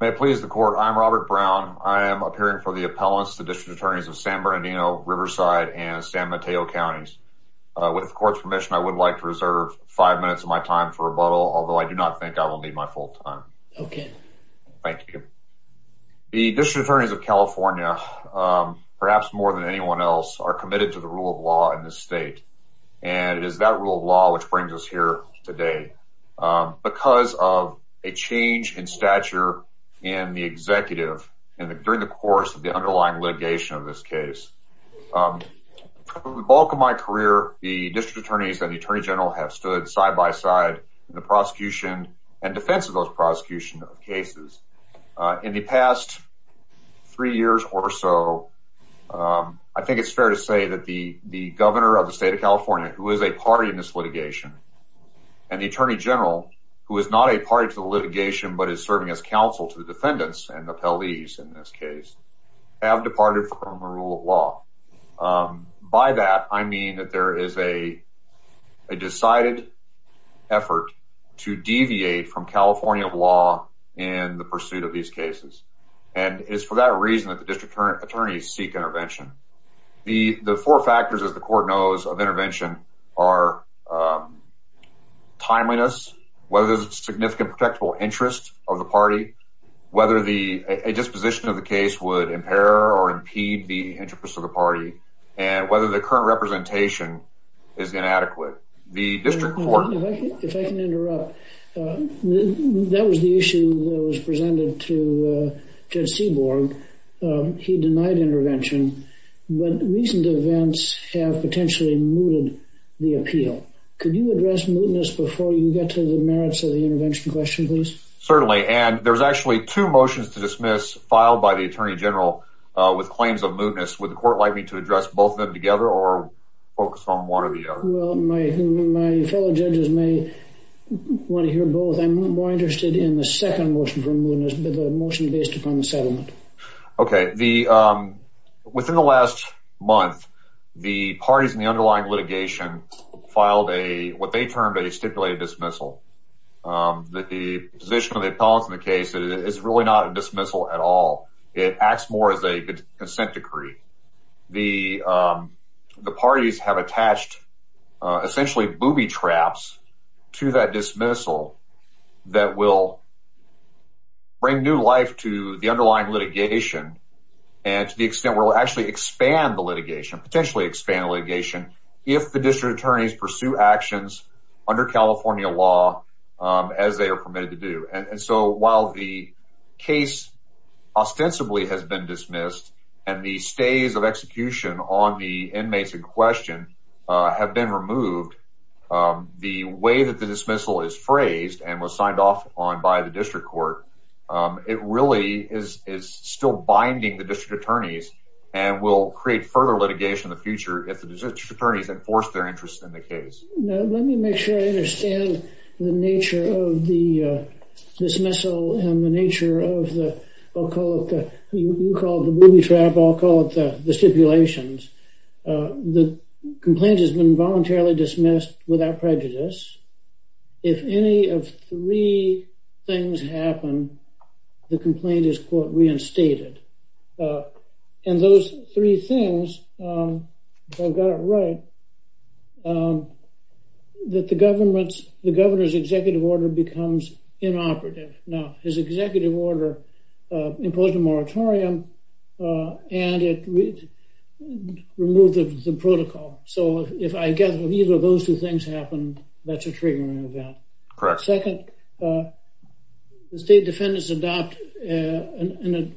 May I please the court? I'm Robert Brown. I am appearing for the appellants, the district attorneys of San Bernardino, Riverside, and San Mateo counties. With the court's permission, I would like to reserve five minutes of my time for rebuttal, although I do not think I will need my full time. Okay. Thank you. The district attorneys of California, perhaps more than anyone else, are committed to the rule of law in this state, and it is that rule of law which brings us here today. Because of a change in stature in the executive during the course of the underlying litigation of this case. The bulk of my career, the district attorneys and the attorney general have stood side by side in the prosecution and defense of those prosecution cases. In the past three years or so, I think it's fair to say that the governor of the state of California, who is a party in this litigation, and the attorney general, who is not a party to the litigation but is serving as counsel to the defendants and the appellees in this case, have departed from the rule of law. By that, I mean that there is a decided effort to deviate from California law in the pursuit of these cases. And it's for that reason that the district attorneys seek intervention. The four factors, as the court knows, of intervention are timeliness, whether there's a significant protectable interest of the party, whether the disposition of the case would impair or impede the interest of the party, and whether the current representation is inadequate. If I can interrupt, that was the issue that was presented to Judge Seaborg. He denied intervention, but recent events have potentially mooted the appeal. Could you address mootness before you get to the merits of the intervention question, please? Certainly. And there's actually two motions to dismiss filed by the attorney general with claims of mootness. Would the court like me to address both of them together or focus on one or the other? My fellow judges may want to hear both. I'm more interested in the second motion for mootness, the motion based upon settlement. Okay. Within the last month, the parties in the underlying litigation filed what they termed a stipulated dismissal. The position of the appellate in the case is really not a dismissal at all. It acts more as a consent decree. The parties have attached essentially booby traps to that dismissal that will bring new life to the underlying litigation and to the extent where it will actually expand the litigation, potentially expand the litigation, if the district attorneys pursue actions under California law as they are permitted to do. And so while the case ostensibly has been dismissed and the stays of execution on the inmates in question have been removed, the way that the dismissal is phrased and was signed off on by the district court, it really is still binding the district attorneys and will create further litigation in the future if the district attorneys enforce their interest in the case. Let me make sure I understand the nature of the dismissal and the nature of the, I'll call it, you call it the booby trap, I'll call it the stipulations. The complaint has been voluntarily dismissed without prejudice. If any of three things happen, the complaint is, quote, reinstated. And those three things, if I've got it right, that the government's, the governor's executive order becomes inoperative. Now, his executive order imposed a moratorium and it removed the protocol. So if I get neither of those two things happen, that's a triggering event. Second, the state defendants adopt an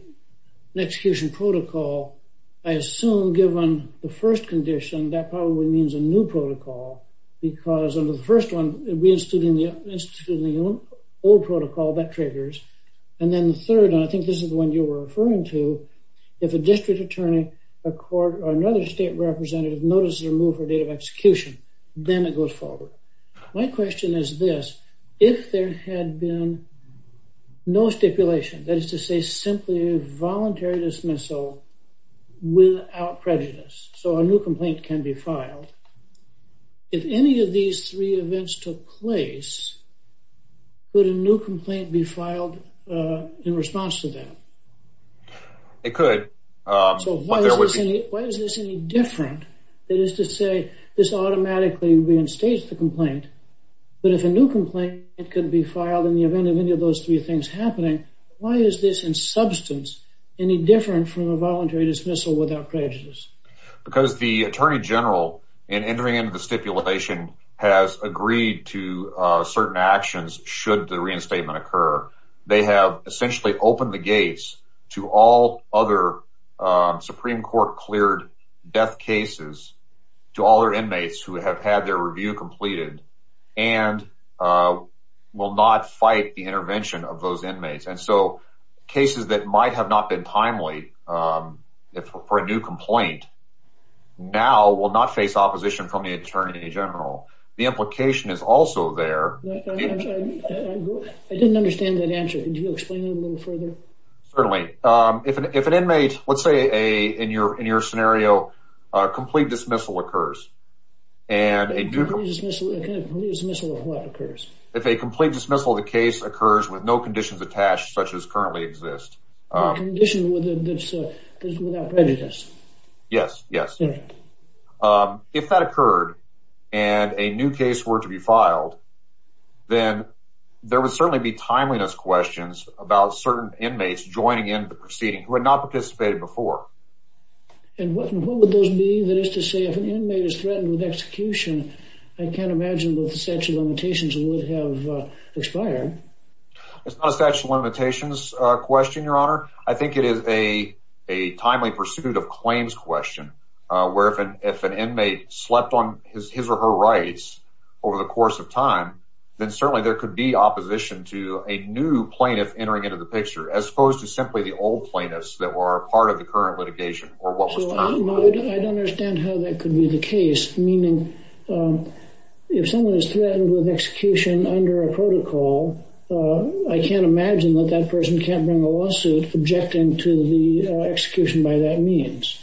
execution protocol. I assume, given the first condition, that probably means a new protocol because of the first one, reinstating the old protocol, that triggers. And then the third, and I think this is the one you were referring to, if a district attorney, a court, or another state representative notices a move or date of execution, then it goes forward. My question is this. If there had been no stipulation, that is to say simply a voluntary dismissal without prejudice, so a new complaint can be filed, if any of these three events took place, would a new complaint be filed in response to that? It could. Why is this any different? That is to say, this automatically reinstates the complaint. But if a new complaint could be filed in the event of any of those three things happening, why is this in substance any different from a voluntary dismissal without prejudice? Because the attorney general, in entering into the stipulation, has agreed to certain actions should the reinstatement occur. They have essentially opened the gates to all other Supreme Court cleared death cases to all their inmates who have had their review completed and will not fight the intervention of those inmates. And so cases that might have not been timely for a new complaint now will not face opposition from the attorney general. The implication is also there. I didn't understand that answer. Could you explain it a little further? Certainly. If an inmate, let's say in your scenario, a complete dismissal occurs. A complete dismissal of what occurs? If a complete dismissal of a case occurs with no conditions attached such as currently exist. Condition without prejudice. Yes, yes. If that occurred and a new case were to be filed, then there would certainly be timeliness questions about certain inmates joining in the proceeding who had not participated before. And what would those be? That is to say if an inmate is threatened with execution, I can't imagine that the statute of limitations would have expired. It's not a statute of limitations question, your honor. I think it is a timely pursuit of claims question. Where if an inmate slept on his or her rights over the course of time, then certainly there could be opposition to a new plaintiff entering into the picture. As opposed to simply the old plaintiffs that were part of the current litigation. I don't understand how that could be the case. If someone is threatened with execution under a protocol, I can't imagine that that person can't bring a lawsuit objecting to the execution by that means.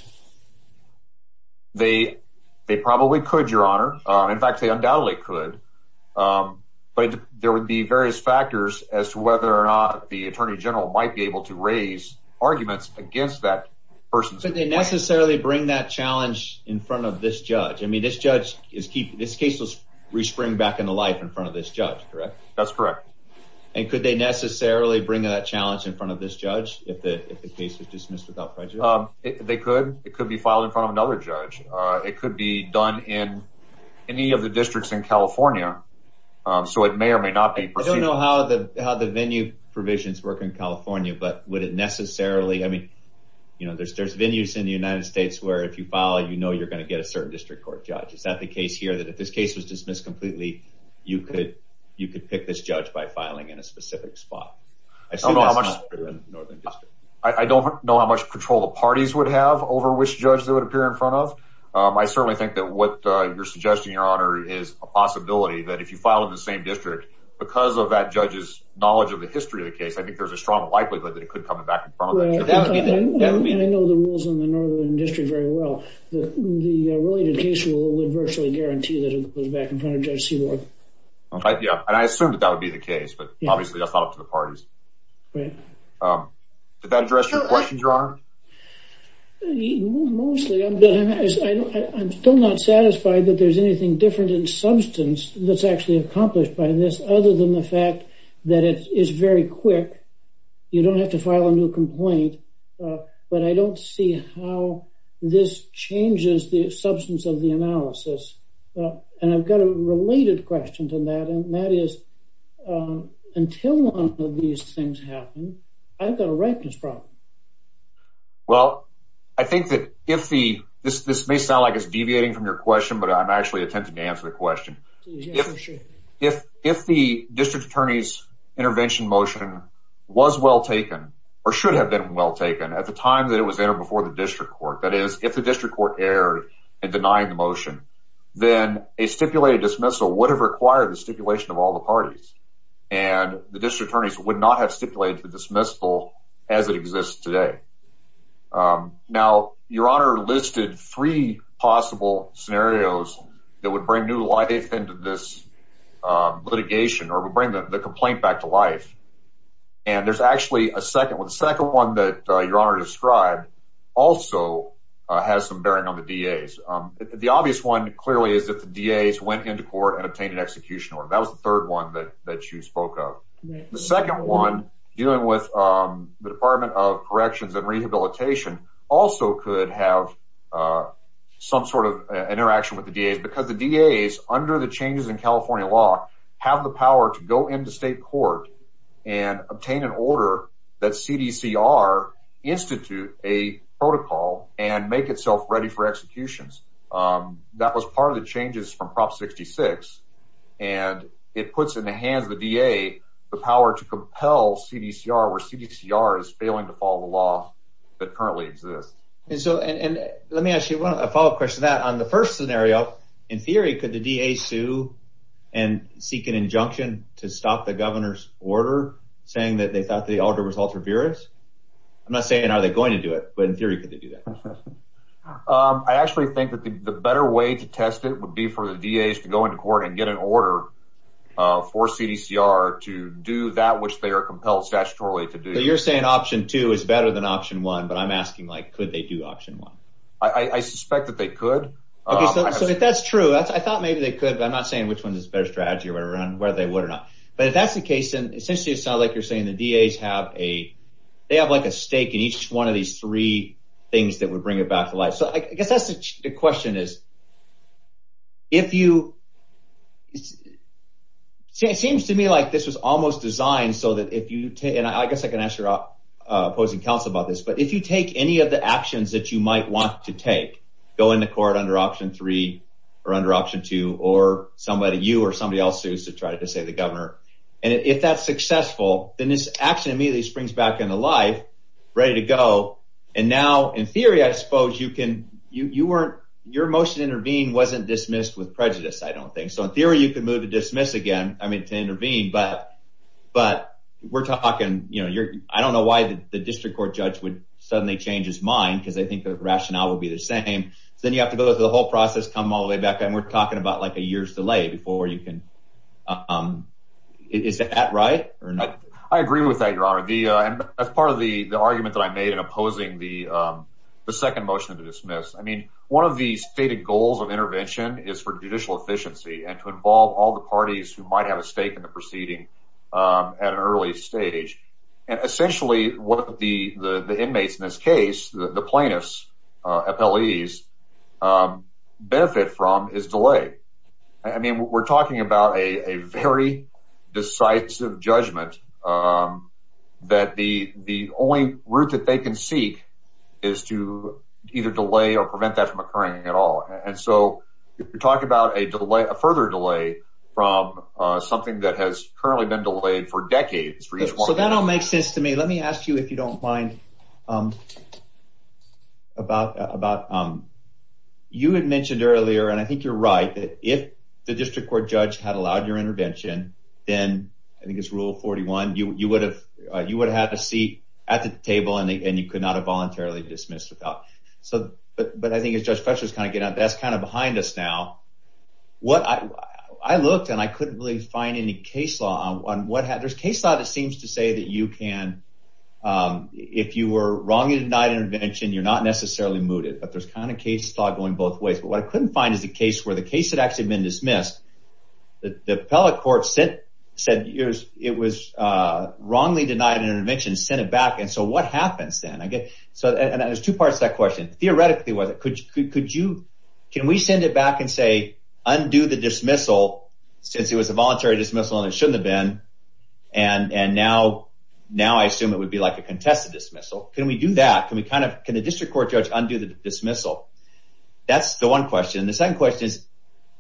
They probably could, your honor. In fact, they undoubtedly could. But there would be various factors as to whether or not the attorney general might be able to raise arguments against that person. Could they necessarily bring that challenge in front of this judge? I mean, this case was re-springed back into life in front of this judge, correct? That's correct. And could they necessarily bring that challenge in front of this judge if the case is dismissed without prejudice? They could. It could be filed in front of another judge. It could be done in any of the districts in California. So it may or may not be. I don't know how the venue provisions work in California, but would it necessarily? I mean, there's venues in the United States where if you file, you know you're going to get a certain district court judge. Is that the case here that if this case was dismissed completely, you could pick this judge by filing in a specific spot? I don't know how much control the parties would have over which judge they would appear in front of. I certainly think that what you're suggesting, your honor, is a possibility that if you file in the same district, because of that judge's knowledge of the history of the case, I think there's a strong likelihood that it could come back in front of them. I know the rules in the Northern District very well. The related case rule would virtually guarantee that it would go back in front of Judge Seward. I assume that that would be the case, but obviously that's not up to the parties. Right. Did that address your question, your honor? Mostly. I'm still not satisfied that there's anything different in substance that's actually accomplished by this other than the fact that it is very quick. You don't have to file a new complaint, but I don't see how this changes the substance of the analysis. And I've got a related question to that, and that is, until one of these things happen, I've got a records problem. Well, I think that if the, this may sound like it's deviating from your question, but I'm actually attempting to answer the question. If the district attorney's intervention motion was well taken or should have been well taken at the time that it was entered before the district court, that is, if the district court erred in denying the motion, then a stipulated dismissal would have required the stipulation of all the parties. And the district attorneys would not have stipulated the dismissal as it exists today. Now, your honor listed three possible scenarios that would bring new life into this litigation or would bring the complaint back to life. And there's actually a second one. The second one that your honor described also has some bearing on the DAs. The obvious one clearly is that the DAs went into court and obtained an execution order. That was the third one that you spoke of. The second one dealing with the Department of Corrections and Rehabilitation also could have some sort of interaction with the DAs because the DAs, under the changes in California law, have the power to go into state court and obtain an order that CDCR institute a protocol and make itself ready for executions. That was part of the changes from Prop 66. And it puts in the hands of the DA the power to compel CDCR, where CDCR is failing to follow the law that currently exists. And so let me ask you a follow-up question to that. On the first scenario, in theory, could the DA sue and seek an injunction to stop the governor's order saying that they thought the order was altruistic? I'm not saying are they going to do it, but in theory, could they do that? I actually think that the better way to test it would be for the DAs to go into court and get an order for CDCR to do that which they are compelled statutorily to do. So you're saying option two is better than option one, but I'm asking, like, could they do option one? I suspect that they could. So if that's true, I thought maybe they could, but I'm not saying which one is a better strategy or whether they would or not. But if that's the case, and essentially it's not like you're saying the DAs have a – they have, like, a stake in each one of these three things that would bring it back to life. So I guess that's the question is if you – it seems to me like this was almost designed so that if you – and I guess I can ask your opposing counsel about this. But if you take any of the actions that you might want to take, go into court under option three or under option two or somebody – you or somebody else who's to try to take the governor, and if that's successful, then this action immediately springs back into life, ready to go. And now, in theory, I suppose you can – you weren't – your motion to intervene wasn't dismissed with prejudice, I don't think. So in theory, you can move to dismiss again – I mean, to intervene, but we're talking – I don't know why the district court judge would suddenly change his mind because they think the rationale will be the same. Then you have to go through the whole process, come all the way back, and we're talking about, like, a year's delay before you can – is that right or not? I agree with that, Your Honor. As part of the argument that I made in opposing the second motion to dismiss, I mean, one of the stated goals of intervention is for judicial efficiency and to involve all the parties who might have a stake in the proceeding at an early stage. Essentially, what the inmates in this case, the plaintiffs, FLEs, benefit from is delay. I mean, we're talking about a very decisive judgment that the only route that they can seek is to either delay or prevent that from occurring at all. We're talking about a further delay from something that has currently been delayed for decades. That all makes sense to me. Let me ask you, if you don't mind, about – you had mentioned earlier, and I think you're right, that if the district court judge had allowed your intervention, then – I think it's Rule 41 – you would have had a seat at the table and you could not have voluntarily dismissed the felon. But I think as Judge Fletcher was kind of getting out, that's kind of behind us now. I looked, and I couldn't really find any case law on what – there's case law that seems to say that you can – if you were wrongly denied an intervention, you're not necessarily mooted. But there's kind of case law going both ways. But what I couldn't find is a case where the case had actually been dismissed, the appellate court said it was wrongly denied an intervention, sent it back, and so what happens then? There's two parts to that question. Theoretically, whether – could you – can we send it back and say, undo the dismissal, since it was a voluntary dismissal and it shouldn't have been, and now I assume it would be like a contested dismissal? Can we do that? Can we kind of – can the district court judge undo the dismissal? That's the one question. The second question is,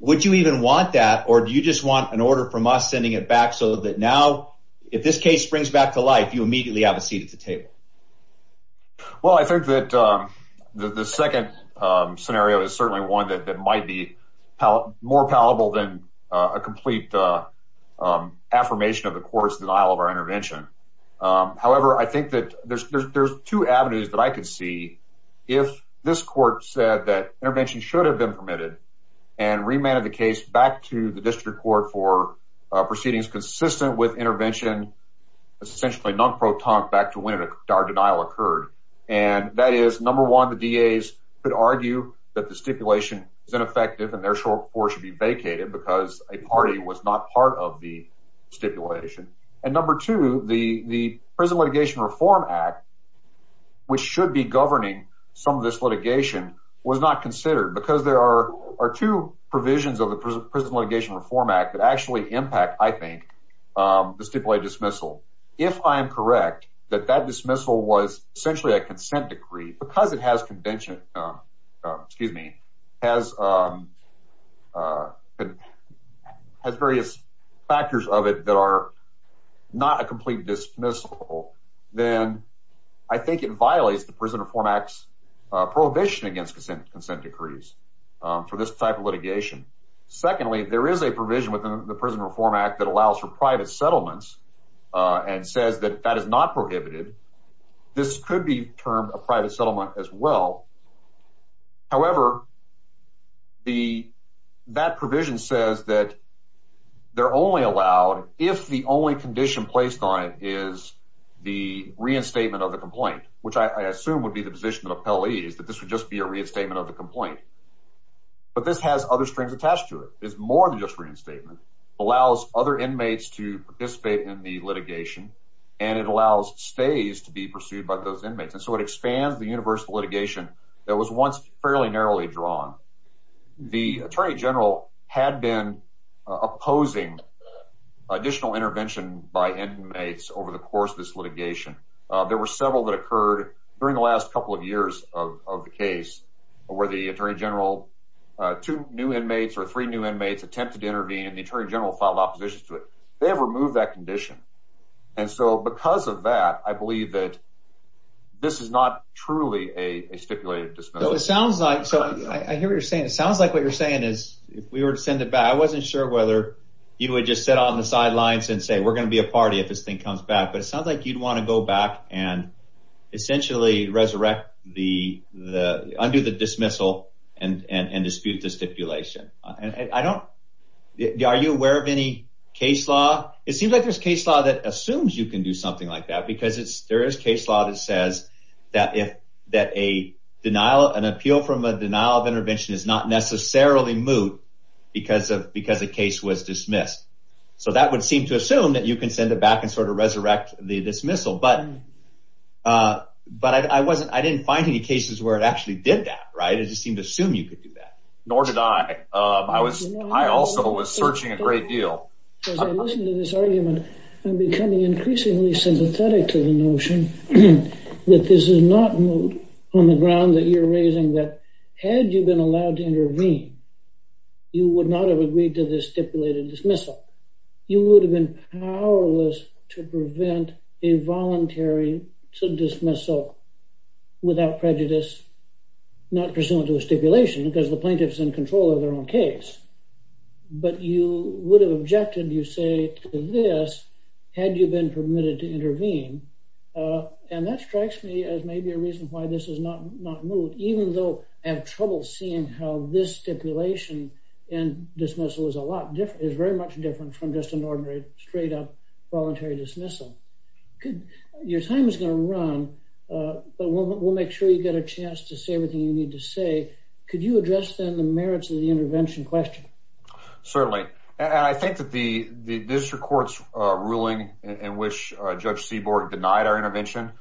would you even want that, or do you just want an order from us sending it back so that now, if this case springs back to life, you immediately have a seat at the table? Well, I think that the second scenario is certainly one that might be more palatable than a complete affirmation of the court's denial of our intervention. However, I think that there's two avenues that I could see. If this court said that intervention should have been permitted and remanded the case back to the district court for proceedings consistent with intervention, essentially non-protonic back to when our denial occurred. And that is, number one, the DAs could argue that the stipulation is ineffective and therefore should be vacated because a party was not part of the stipulation. And number two, the Prison Litigation Reform Act, which should be governing some of this litigation, was not considered because there are two provisions of the Prison Litigation Reform Act that actually impact, I think, the stipulated dismissal. If I'm correct, that that dismissal was essentially a consent decree, because it has various factors of it that are not a complete dismissal, then I think it violates the Prison Reform Act's prohibition against consent decrees for this type of litigation. Secondly, there is a provision within the Prison Reform Act that allows for private settlements and says that that is not prohibited. This could be termed a private settlement as well. However, that provision says that they're only allowed if the only condition placed on it is the reinstatement of the complaint, which I assume would be the position of the penalties, that this would just be a reinstatement of the complaint. But this has other strings attached to it. It's more than just reinstatement. It allows other inmates to participate in the litigation, and it allows stays to be pursued by those inmates. And so it expands the universal litigation that was once fairly narrowly drawn. The attorney general had been opposing additional intervention by inmates over the course of this litigation. There were several that occurred during the last couple of years of the case where the attorney general, two new inmates or three new inmates attempted to intervene, and the attorney general filed opposition to it. They have removed that condition. And so because of that, I believe that this is not truly a stipulated dismissal. I hear what you're saying. It sounds like what you're saying is if we were to send it back, I wasn't sure whether you would just sit on the sidelines and say we're going to be a party if this thing comes back. But it sounds like you'd want to go back and essentially undo the dismissal and dispute the stipulation. Are you aware of any case law? It seems like there's case law that assumes you can do something like that because there is case law that says that an appeal from a denial of intervention is not necessarily moot because a case was dismissed. So that would seem to assume that you can send it back and sort of resurrect the dismissal. But I didn't find any cases where it actually did that, right? It just seemed to assume you could do that. Nor did I. I also was searching a great deal. As I listen to this argument, I'm becoming increasingly sympathetic to the notion that this is not moot on the ground that you're raising that had you been allowed to intervene, you would not have agreed to the stipulated dismissal. You would have been powerless to prevent a voluntary dismissal without prejudice, not pursuant to the stipulation because the plaintiffs in control of their own case. But you would have objected, you say, to this had you been permitted to intervene. And that strikes me as maybe a reason why this is not moot, even though I have trouble seeing how this stipulation and dismissal is very much different from just an ordinary, straight up, voluntary dismissal. Your time is going to run, but we'll make sure you get a chance to say everything you need to say. Could you address the merits of the intervention question? Certainly. I think that the district court's ruling in which Judge Seaborg denied our intervention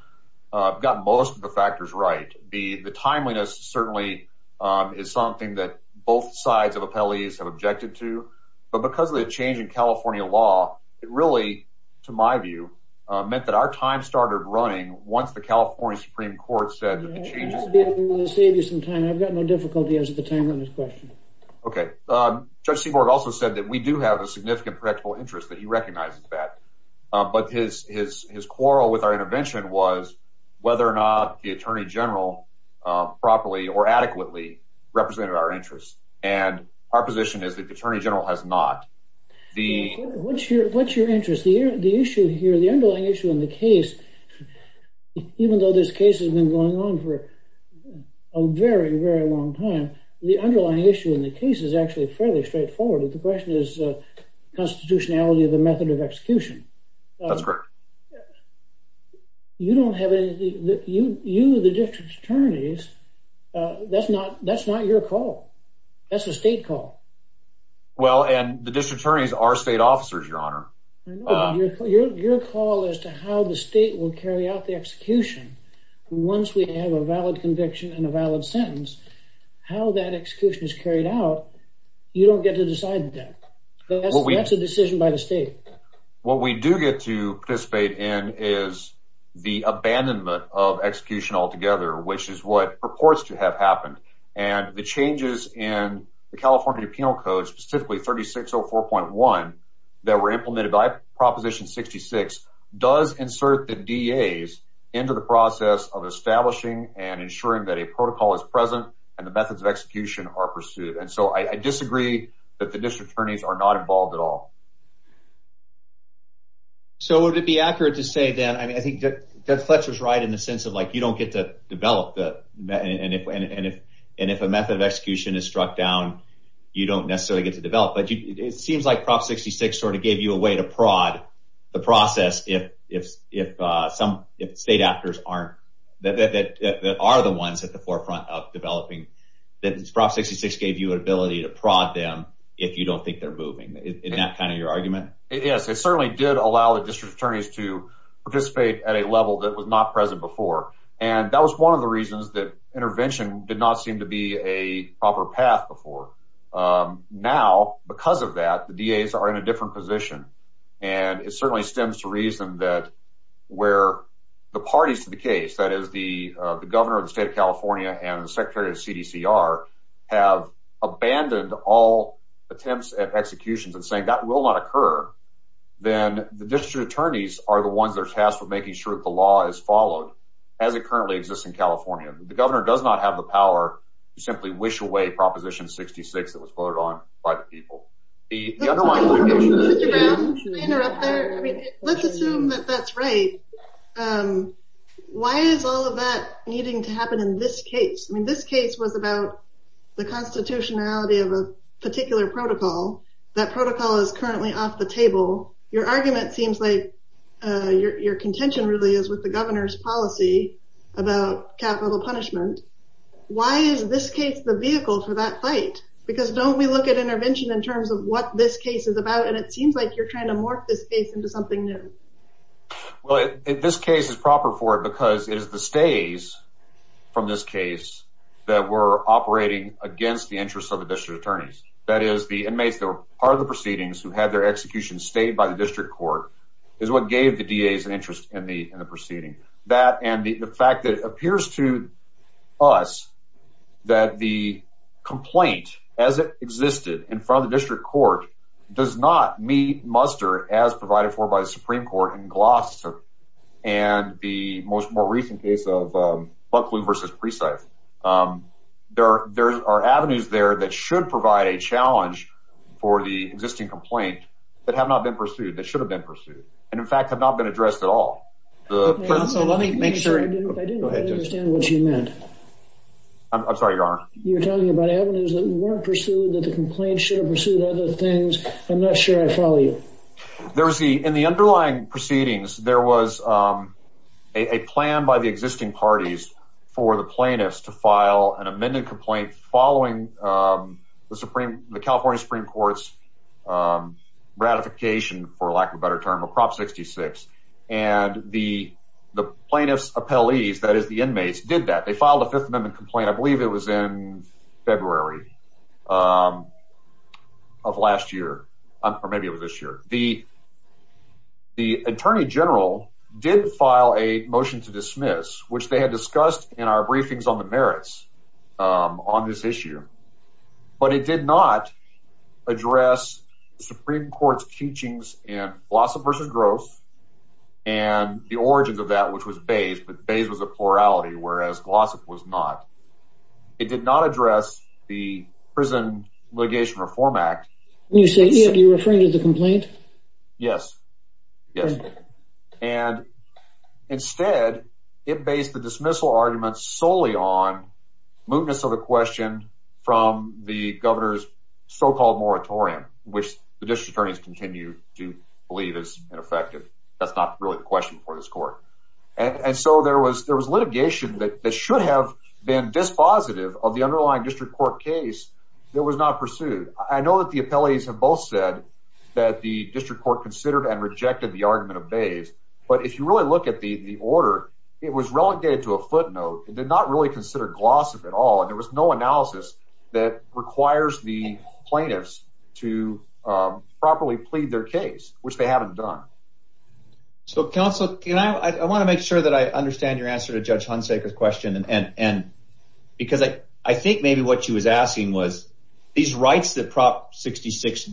got most of the factors right. The timeliness certainly is something that both sides of the palleys have objected to. But because of the change in California law, it really, to my view, meant that our time started running. I'll save you some time. I've got no difficulty answering the timeliness question. Okay. Judge Seaborg also said that we do have a significant predictable interest, that he recognizes that. But his quarrel with our intervention was whether or not the Attorney General properly or adequately represented our interests. And our position is that the Attorney General has not. What's your interest? The underlying issue in the case, even though this case has been going on for a very, very long time, the underlying issue in the case is actually fairly straightforward. The question is constitutionality of the method of execution. That's correct. You, the district attorneys, that's not your call. That's the state call. Well, and the district attorneys are state officers, Your Honor. Your call as to how the state will carry out the execution, once we have a valid conviction and a valid sentence, how that execution is carried out, you don't get to decide that. That's a decision by the state. What we do get to participate in is the abandonment of execution altogether, which is what purports to have happened. And the changes in the California Penal Code, specifically 3604.1, that were implemented by Proposition 66, does insert the DAs into the process of establishing and ensuring that a protocol is present and the methods of execution are pursued. And so I disagree that the district attorneys are not involved at all. So would it be accurate to say that, I mean, I think Jeff Fletcher is right in the sense of, like, you don't get to develop the, and if a method of execution is struck down, you don't necessarily get to develop. But it seems like Prop 66 sort of gave you a way to prod the process if some state actors aren't, that are the ones at the forefront of developing, that Prop 66 gave you an ability to prod them if you don't think they're moving. Isn't that kind of your argument? Yes, it certainly did allow the district attorneys to participate at a level that was not present before. And that was one of the reasons that intervention did not seem to be a proper path before. Now, because of that, the DAs are in a different position. And it certainly stems to reason that where the parties to the case, that is the governor of the state of California and the secretary of CDCR, have abandoned all attempts at executions and saying that will not occur, then the district attorneys are the ones that are tasked with making sure that the law is followed, as it currently exists in California. The governor does not have the power to simply wish away Proposition 66 that was voted on by the people. Let's assume that that's right. Why is all of that needing to happen in this case? I mean, this case was about the constitutionality of a particular protocol. That protocol is currently off the table. Your argument seems like your contention really is with the governor's policy about capital punishment. Why is this case the vehicle for that fight? Because don't we look at intervention in terms of what this case is about, and it seems like you're trying to morph this case into something new. Well, this case is proper for it because it is the stays from this case that were operating against the interests of the district attorneys. That is, the inmates that were part of the proceedings, who had their executions stayed by the district court, is what gave the DAs an interest in the proceedings. The fact that it appears to us that the complaint, as it existed in front of the district court, does not meet muster as provided for by the Supreme Court in Gloucester and the more recent case of Buckley v. Preside. There are avenues there that should provide a challenge for the existing complaint that have not been pursued, that should have been pursued, and, in fact, have not been addressed at all. Let me make sure I understand what you meant. I'm sorry, Your Honor. You're talking about avenues that weren't pursued, that the complaint should have pursued other things. I'm not sure I follow you. In the underlying proceedings, there was a plan by the existing parties for the plaintiffs to file an amended complaint following the California Supreme Court's ratification, for lack of a better term, of Prop 66. And the plaintiff's appellees, that is, the inmates, did that. They filed a Fifth Amendment complaint, I believe it was in February of last year, or maybe it was this year. The attorney general did file a motion to dismiss, which they had discussed in our briefings on the merits on this issue, but it did not address the Supreme Court's teachings in Glossop vs. Gross and the origins of that, which was Bayes, but Bayes was a plurality, whereas Glossop was not. It did not address the Prison Litigation Reform Act. You're referring to the complaint? Yes. And, instead, it based the dismissal argument solely on from the governor's so-called moratorium, which the district attorneys continue to believe is ineffective. That's not really the question for this court. And so there was litigation that should have been dispositive of the underlying district court case that was not pursued. I know that the appellees have both said that the district court considered and rejected the argument of Bayes, but if you really look at the order, it was relegated to a footnote. It did not really consider Glossop at all, and there was no analysis that requires the plaintiffs to properly plead their case, which they hadn't done. So, counsel, I want to make sure that I understand your answer to Judge Hunsaker's question, because I think maybe what she was asking was these rights that Prop 66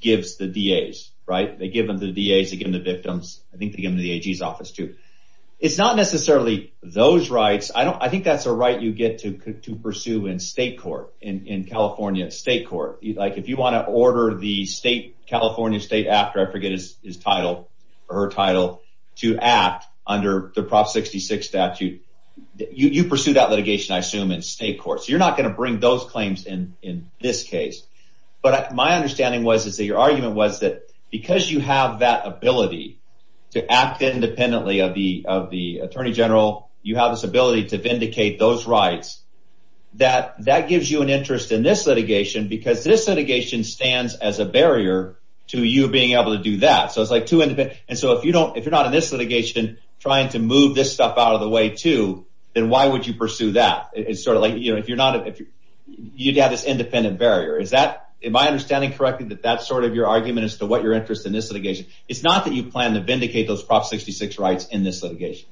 gives the DAs, right? They give them to the DAs, they give them to the victims, I think they give them to the AG's office, too. It's not necessarily those rights. I think that's a right you get to pursue in state court, in California state court. If you want to order the state, California State Act, or I forget her title, to act under the Prop 66 statute, you pursue that litigation, I assume, in state court. So you're not going to bring those claims in this case. But my understanding was that your argument was that because you have that ability to act independently of the Attorney General, you have this ability to vindicate those rights, that that gives you an interest in this litigation, because this litigation stands as a barrier to you being able to do that. And so if you're not in this litigation trying to move this stuff out of the way, too, then why would you pursue that? It's sort of like you'd have this independent barrier. Am I understanding correctly that that's sort of your argument as to what your interest in this litigation? It's not that you plan to vindicate those Prop 66 rights in this litigation.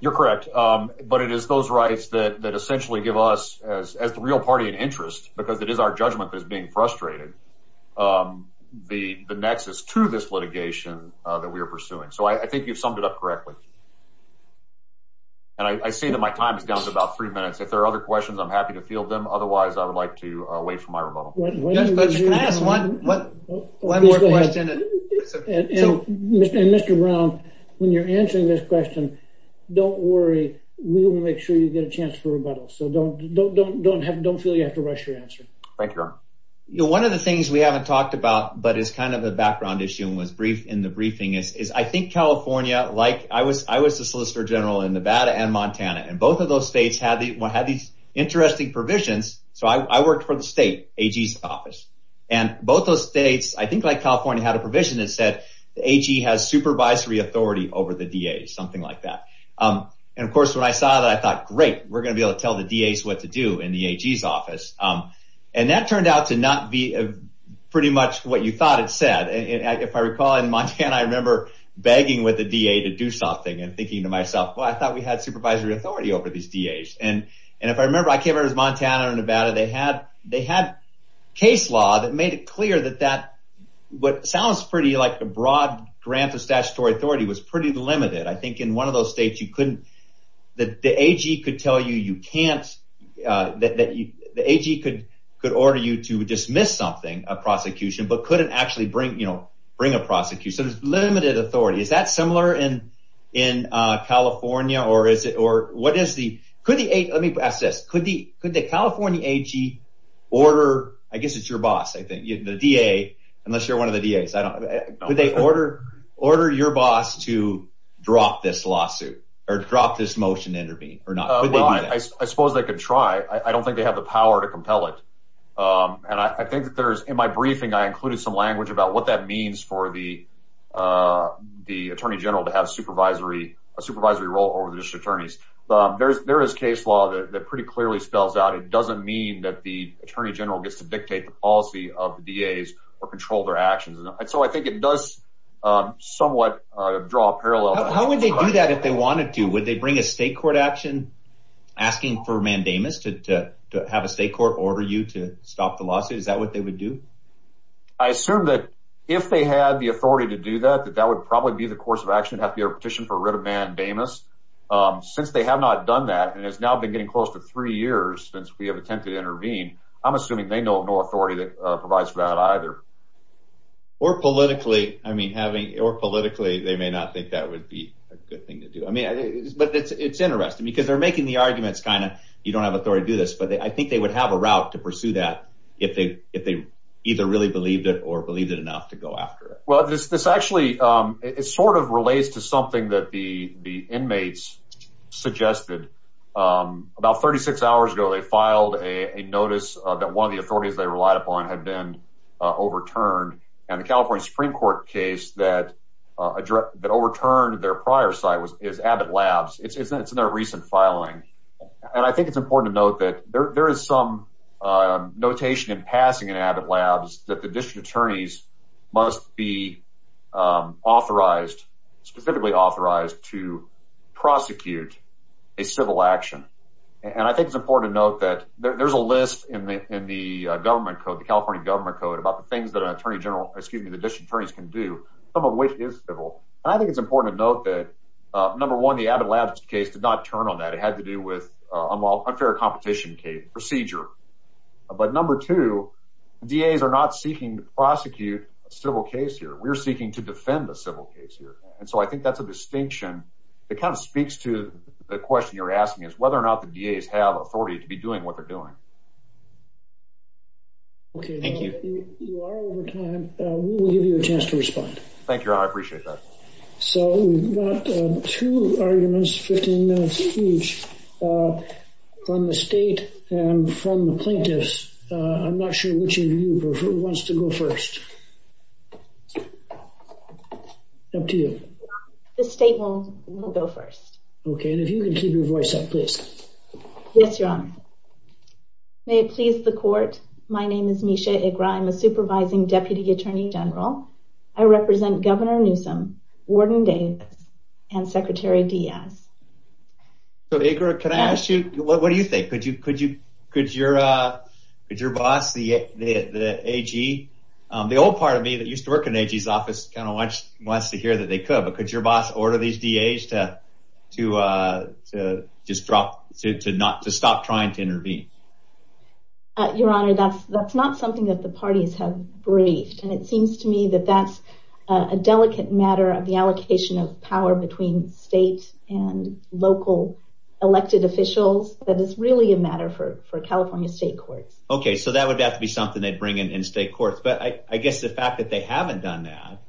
You're correct, but it is those rights that essentially give us, as the real party in interest, because it is our judgment that's being frustrated, the nexus to this litigation that we are pursuing. So I think you've summed it up correctly. And I see that my time has gone up to about three minutes. If there are other questions, I'm happy to field them. Otherwise, I would like to wait for my rebuttal. Can I have one more question? And Mr. Brown, when you're answering this question, don't worry. We will make sure you get a chance for rebuttal. So don't feel you have to rush your answer. Thank you. One of the things we haven't talked about, but is kind of a background issue and was briefed in the briefing, is I think California, like I was the Solicitor General in Nevada and Montana. And both of those states had these interesting provisions. So I worked for the state AG's office. And both those states, I think like California, had a provision that said the AG has supervisory authority over the DAs, something like that. And, of course, when I saw that, I thought, great, we're going to be able to tell the DAs what to do in the AG's office. And that turned out to not be pretty much what you thought it said. If I recall in Montana, I remember begging with the DA to do something and thinking to myself, well, I thought we had supervisory authority over these DAs. And if I remember, I came over to Montana and Nevada. They had case law that made it clear that that what sounds pretty like a broad grant of statutory authority was pretty limited. I think in one of those states, you couldn't, that the AG could tell you you can't, that the AG could order you to dismiss something, a prosecution, but couldn't actually bring a prosecution. It's limited authority. Is that similar in California? Let me ask this. Could the California AG order, I guess it's your boss, I think, the DA, unless you're one of the DAs. Could they order your boss to drop this lawsuit or drop this motion to intervene or not? I suppose they could try. I don't think they have the power to compel it. And I think there's, in my briefing, I included some language about what that means for the attorney general to have a supervisory role over the district attorneys. There is case law that pretty clearly spells out it doesn't mean that the attorney general gets to dictate the policy of the DAs or control their actions. And so I think it does somewhat draw a parallel. How would they do that if they wanted to? Would they bring a state court action asking for mandamus to have a state court order you to stop the lawsuit? Is that what they would do? I assume that if they had the authority to do that, that that would probably be the course of action after your petition for writ of mandamus. Since they have not done that, and it's now been getting close to three years since we have attempted to intervene, I'm assuming they know no authority that provides for that either. Or politically. I mean, having, or politically, they may not think that would be a good thing to do. I mean, but it's interesting because they're making the arguments kind of you don't have authority to do this. But I think they would have a route to pursue that if they either really believed it or believed it enough to go after it. Well, this actually, it sort of relates to something that the inmates suggested. About 36 hours ago, they filed a notice that one of the authorities they relied upon had been overturned. And the California Supreme Court case that overturned their prior site is Abbott Labs. It's in their recent filing. And I think it's important to note that there is some notation in passing in Abbott Labs that the district attorneys must be authorized, specifically authorized, to prosecute a civil action. And I think it's important to note that there's a list in the government code, the California government code, about the things that an attorney general, excuse me, the district attorneys can do. Some of which is civil. And I think it's important to note that, number one, the Abbott Labs case did not turn on that. It had to do with unfair competition procedure. But number two, DAs are not seeking to prosecute a civil case here. We're seeking to defend the civil case here. And so I think that's a distinction that kind of speaks to the question you're asking is whether or not the DAs have authority to be doing what they're doing. OK. Thank you. You are over time. We'll give you a chance to respond. Thank you. I appreciate that. So we've got two arguments, 15 minutes each, from the state and from the plaintiffs. I'm not sure which of you, but who wants to go first? Up to you. The state will go first. OK. If you can keep your voice up, please. Yes, Your Honor. May it please the court, my name is Nisha Iqra. I'm a supervising deputy attorney general. I represent Governor Newsom, Warden Davis, and Secretary Diaz. So Iqra, can I ask you, what do you think? Could your boss, the AG, the old part of me that used to work in AG's office kind of wants to hear that they could. But could your boss order these DAs to stop trying to intervene? Your Honor, that's not something that the parties have raised. And it seems to me that that's a delicate matter of the allocation of power between state and local elected officials. But it's really a matter for California state court. OK. So that would have to be something they'd bring in state court. But I guess the fact that they haven't done that,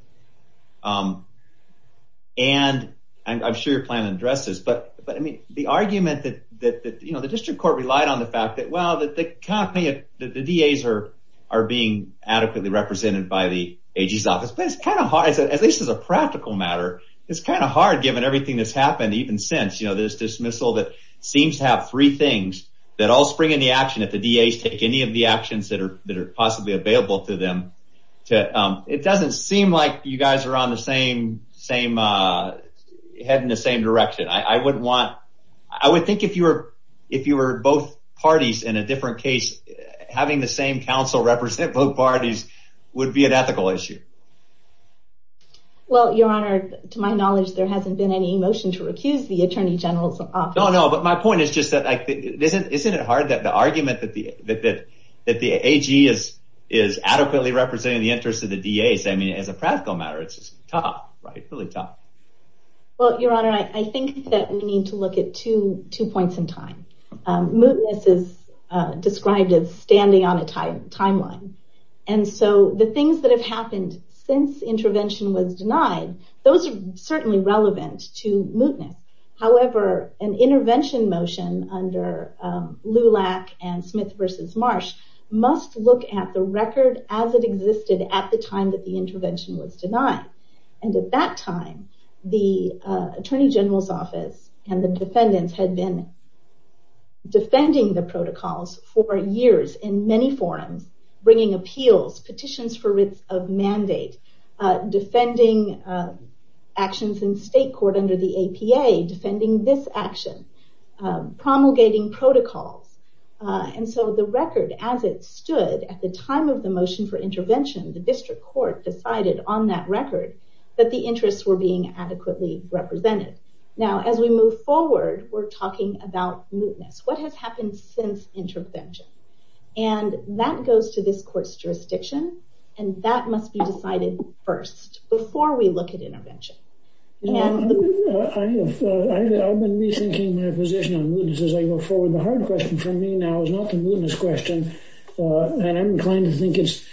and I'm sure your plan addresses, but the argument that the district court relied on the fact that, well, the DAs are being adequately represented by the AG's office, that's kind of hard, at least as a practical matter. It's kind of hard given everything that's happened even since. This dismissal that seems to have three things that all spring into action if the DAs take any of the actions that are possibly available to them. It doesn't seem like you guys are on the same, heading the same direction. I would want, I would think if you were both parties in a different case, having the same counsel represent both parties would be an ethical issue. Well, Your Honor, to my knowledge, there hasn't been any motion to recuse the attorney general from office. No, no. But my point is just that isn't it hard that the argument that the AG is adequately representing the interests of the DAs, I mean, as a practical matter, it's tough, right? It's really tough. Well, Your Honor, I think that we need to look at two points in time. Mootness is described as standing on the timeline. And so the things that have happened since the intervention was denied, those are certainly relevant to mootness. However, an intervention motion under Lulak and Smith versus Marsh must look at the record as it existed at the time that the intervention was denied. And at that time, the attorney general's office and the defendants had been defending the protocols for years in many forums, bringing appeals, petitions for risk of mandate, defending actions in state court under the APA, defending this action, promulgating protocols. And so the record as it stood at the time of the motion for intervention, the district court decided on that record that the interests were being adequately represented. Now, as we move forward, we're talking about mootness. What has happened since intervention? And that goes to this court's jurisdiction. And that must be decided first, before we look at intervention. I've been rethinking my position on mootness as I move forward. The hard question for me now is not the mootness question. And I'm inclined to think it's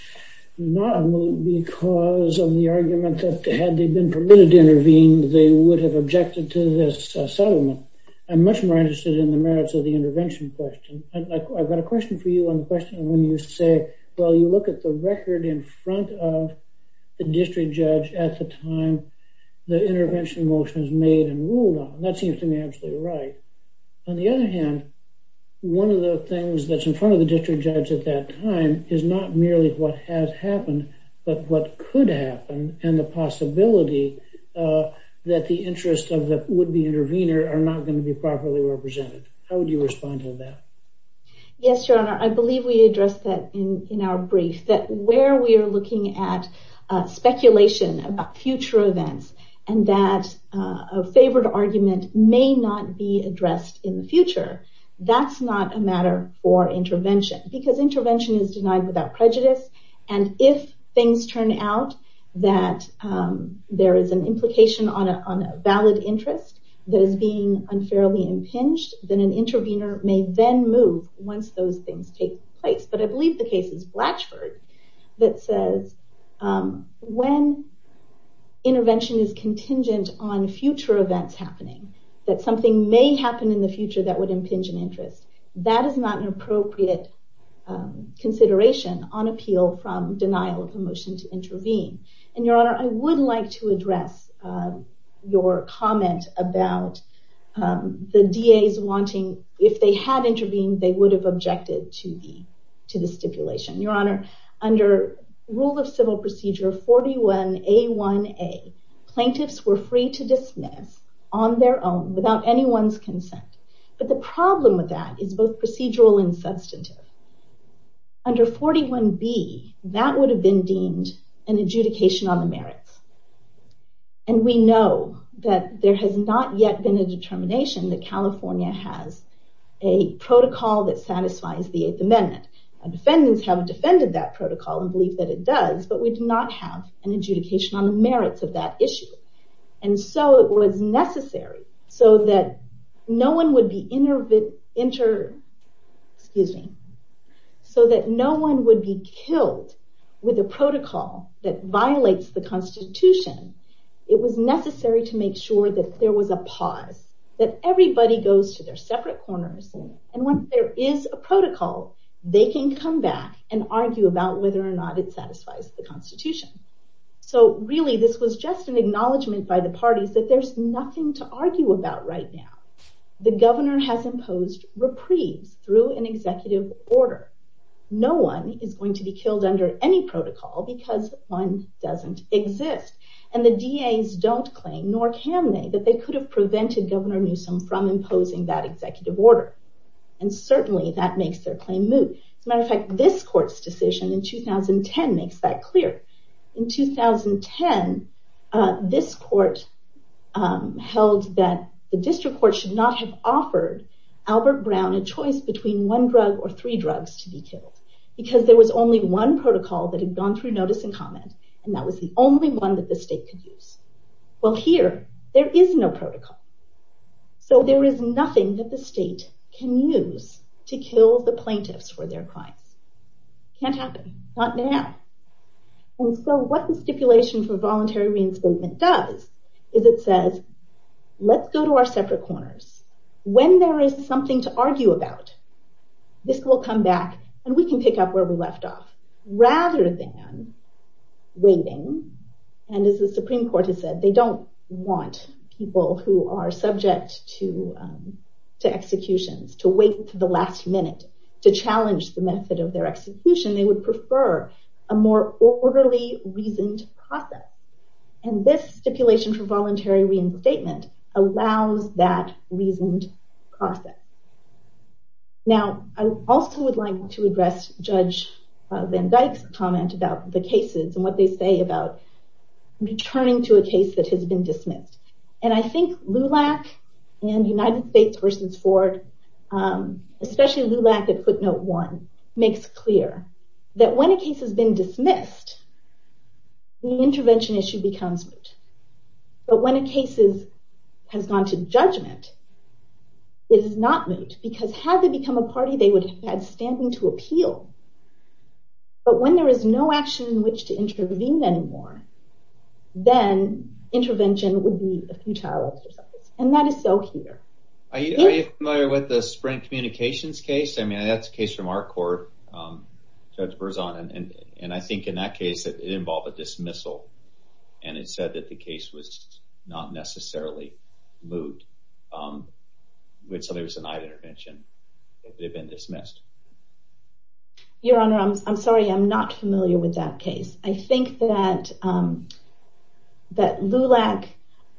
not moot because of the argument that had they been permitted to intervene, they would have objected to this settlement. I'm much more interested in the merits of the intervention question. I've got a question for you on the question when you say, well, you look at the record in front of the district judge at the time the intervention motion was made and ruled on. That seems to me absolutely right. On the other hand, one of the things that's in front of the district judge at that time is not merely what has happened, but what could happen, and the possibility that the interests of the would-be intervener are not going to be properly represented. How would you respond to that? Yes, Your Honor. I believe we addressed that in our brief, that where we are looking at speculation about future events and that a favored argument may not be addressed in the future, that's not a matter for intervention. Because intervention is denied without prejudice. And if things turn out that there is an implication on a valid interest that is being unfairly impinged, then an intervener may then move once those things take place. But I believe the case is Blatchford that says, when intervention is contingent on future events happening, that something may happen in the future that would impinge an interest, that is not an appropriate consideration on appeal from denial of permission to intervene. And Your Honor, I would like to address your comment about the DAs wanting, if they had intervened, they would have objected to the stipulation. Your Honor, under rule of civil procedure 41A1A, plaintiffs were free to dismiss on their own without anyone's consent. But the problem with that is both procedural and substantive. Under 41B, that would have been deemed an adjudication on the merits. And we know that there has not yet been a determination that California has a protocol that satisfies the Eighth Amendment. Defendants haven't defended that protocol and believe that it does, but we do not have an adjudication on the merits of that issue. And so it was necessary so that no one would be killed with a protocol that violates the Constitution. It was necessary to make sure that there was a pause, that everybody goes to their separate corners. And once there is a protocol, they can come back and argue about whether or not it satisfies the Constitution. So really, this was just an acknowledgment by the parties that there's nothing to argue about right now. The governor has imposed reprieve through an executive order. No one is going to be killed under any protocol because one doesn't exist. And the DAs don't claim, nor can they, that they could have prevented Governor Newsom from imposing that executive order. And certainly, that makes their claim moot. As a matter of fact, this court's decision in 2010 makes that clear. In 2010, this court held that the district court should not have offered Albert Brown a choice between one drug or three drugs to be killed because there was only one protocol that had gone through notice and comment, and that was the only one that the state could use. Well, here, there is no protocol. So there is nothing that the state can use to kill the plaintiffs for their crime. Can't happen. Not now. And so what the stipulation for voluntary reinstatement does is it says, let's go to our separate corners. When there is something to argue about, this will come back, and we can pick up where we left off. Rather than waiting, and as the Supreme Court has said, they don't want people who are subject to executions to wait until the last minute to challenge the method of their execution. They would prefer a more orderly, reasoned process. And this stipulation for voluntary reinstatement allows that reasoned process. Now, I also would like to address Judge Van Dyck's comment about the cases and what they say about returning to a case that has been dismissed. And I think LULAC and United States versus Ford, especially LULAC at footnote one, makes it clear that when a case has been dismissed, the intervention issue becomes legal. But when a case has gone to judgment, it is not legal. Because had they become a party, they would have had standing to appeal. But when there is no action in which to intervene anymore, then intervention would be futile. And that is so clear. Are you familiar with the Sprint Communications case? I mean, that's a case from our court, Judge Berzon. And I think in that case, it involved a dismissal. And it said that the case was not necessarily moot. So there was denied intervention if it had been dismissed. Your Honor, I'm sorry. I'm not familiar with that case. I think that LULAC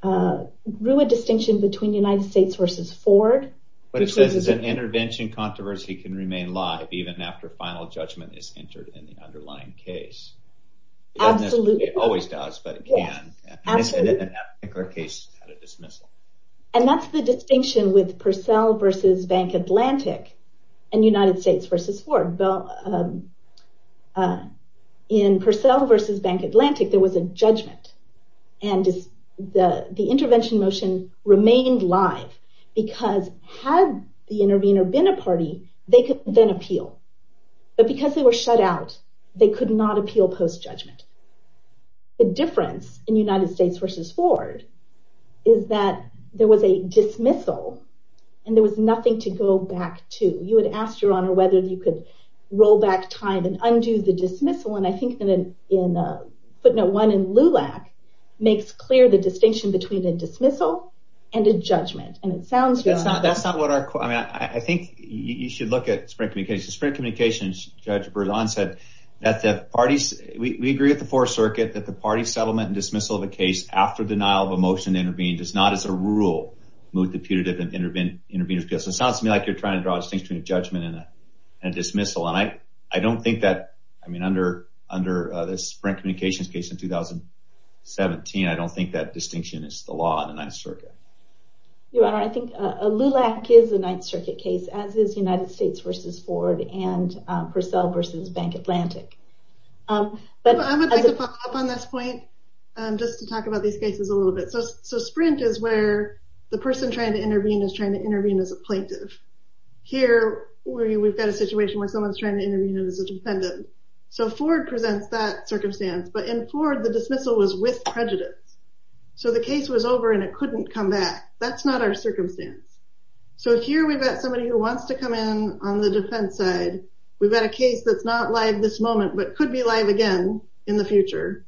grew a distinction between United States versus Ford. But it says an intervention controversy can remain live even after final judgment is entered in the underlying case. Absolutely. It always does, but it can. And I think our case had a dismissal. And that's the distinction with Purcell versus Bank Atlantic and United States versus Ford. In Purcell versus Bank Atlantic, there was a judgment. And the intervention motion remained live because had the intervener been a party, they could then appeal. But because they were shut out, they could not appeal post-judgment. The difference in United States versus Ford is that there was a dismissal. And there was nothing to go back to. You would ask, Your Honor, whether you could roll back time and undo the dismissal. And I think that putting a one in LULAC makes clear the distinction between a dismissal and a judgment. And it sounds, Your Honor. That's not what our question is. I think you should look at Sprint Communications. Sprint Communications, Judge Berzon, said that the parties, we agree with the Fourth Circuit that the parties' settlement and dismissal of a case after denial of a motion to intervene does not, as a rule, move to putative and intervening objection. It sounds to me like you're trying to draw a distinction between a judgment and a dismissal. And I don't think that, I mean, under the Sprint Communications case in 2017, I don't think that distinction is the law in the Ninth Circuit. Your Honor, I think LULAC is the Ninth Circuit case, as is United States versus Ford and Purcell versus Bank Atlantic. I have to follow up on this point just to talk about these cases a little bit. So Sprint is where the person trying to intervene is trying to intervene as a plaintiff. Here, we've got a situation where someone's trying to intervene as a defendant. So Ford presents that circumstance. But in Ford, the dismissal was with prejudice. So the case was over and it couldn't come back. That's not our circumstance. So here we've got somebody who wants to come in on the defense side. We've got a case that's not live this moment but could be live again in the future.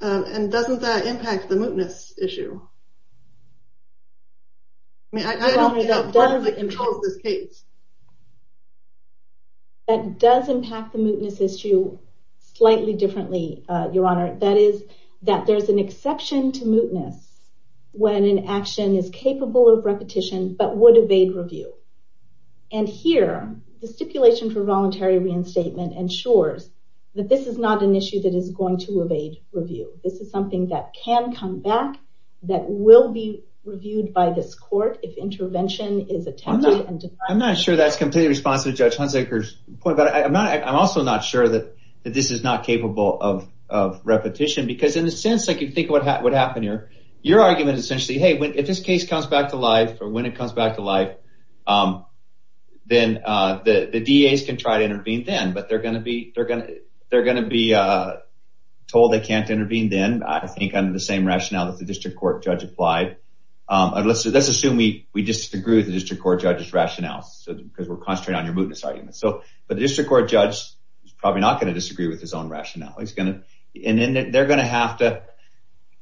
And doesn't that impact the mootness issue? No. I mean, I don't think that's part of the control of this case. That does impact the mootness issue slightly differently, Your Honor. That is that there's an exception to mootness when an action is capable of repetition but would evade review. And here, the stipulation for voluntary reinstatement ensures that this is not an issue that is going to evade review. This is something that can come back that will be reviewed by this court if intervention is attempted and decided. I'm not sure that completely responds to Judge Hunsaker's point. But I'm also not sure that this is not capable of repetition. Because in a sense, if you think of what happened here, your argument is essentially, hey, if this case comes back to life or when it comes back to life, then the DAs can try to intervene then. But they're going to be told they can't intervene then, I think, under the same rationale that the district court judge applied. Let's assume we disagree with the district court judge's rationale, because we're concentrating on your mootness argument. But the district court judge is probably not going to disagree with his own rationale. And then they're going to have to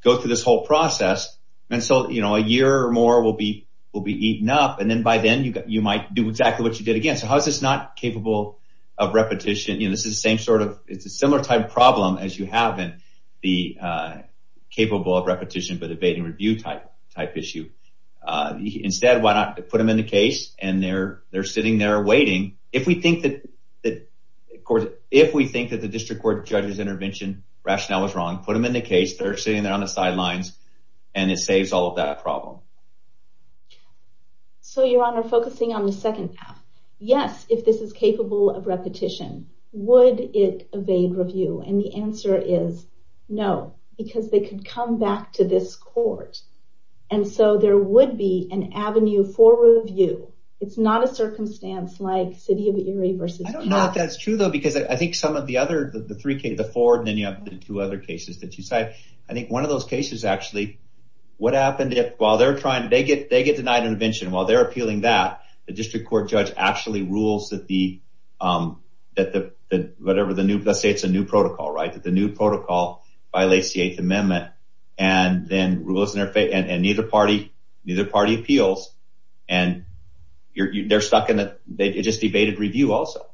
go through this whole process. And so a year or more will be eaten up. And then by then, you might do exactly what you did again. So how is this not capable of repetition? It's a similar type problem as you have in the capable of repetition but evading review type issue. Instead, why not put them in the case? And they're sitting there waiting. If we think that the district court judge's intervention rationale was wrong, put them in the case. They're sitting there on the sidelines. And it saves all of that problem. So, Your Honor, focusing on the second part, yes, if this is capable of repetition, would it evade review? And the answer is no, because they could come back to this court. And so there would be an avenue for review. It's not a circumstance like city of Erie versus Utah. I don't know if that's true, though, because I think some of the other, the three cases, the four, and then you have the two other cases that you said, I think one of those cases, actually, what happened if, while they're trying, they get denied intervention. While they're appealing that, the district court judge actually rules that the, whatever, the new, let's say it's a new protocol, right? The new protocol violates the Eighth Amendment. And then neither party appeals. And they're stuck in a, it'd just be evaded review also.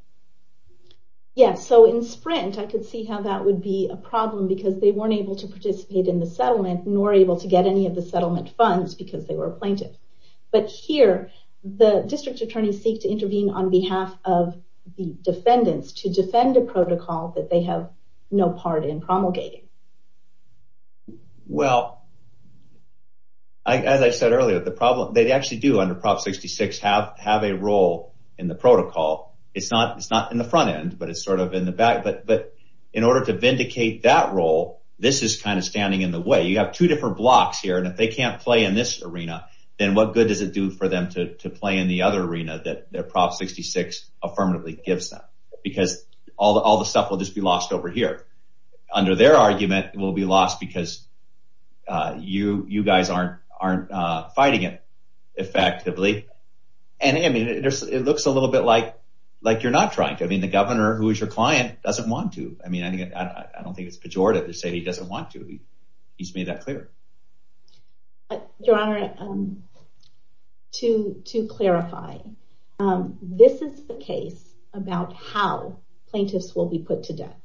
Yeah, so in Sprint, I could see how that would be a problem because they weren't able to participate in the settlement nor able to get any of the settlement funds because they were plaintiffs. But here, the district attorneys seek to intervene on behalf of the defendants to defend a protocol that they have no part in promulgating. Well, as I said earlier, the problem, they actually do, under Prop 66, have a role in the protocol. It's not in the front end, but it's sort of in the back. But in order to vindicate that role, this is kind of standing in the way. You have two different blocks here. And if they can't play in this arena, then what good does it do for them to play in the other arena that Prop 66 affirmatively gives them? Because all the stuff will just be lost over here. Under their argument, it will be lost because you guys aren't fighting it effectively. And I mean, it looks a little bit like you're not trying to. I mean, the governor, who is your client, doesn't want to. I mean, I don't think it's pejorative to say he doesn't want to. He's made that clear. Your Honor, to clarify, this is a case about how plaintiffs will be put to death.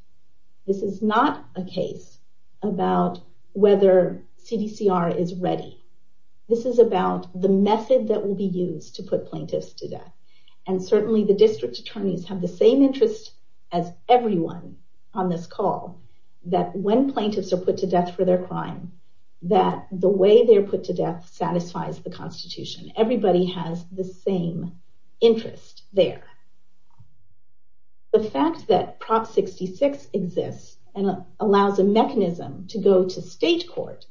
This is not a case about whether CDCR is ready. This is about the method that will be used to put plaintiffs to death. And certainly, the district attorneys have the same interest as everyone on this call that when plaintiffs are put to death for their crimes, that the way they're put to death satisfies the Constitution. Everybody has the same interest there. The fact that Prop 66 exists and allows a mechanism to go to state court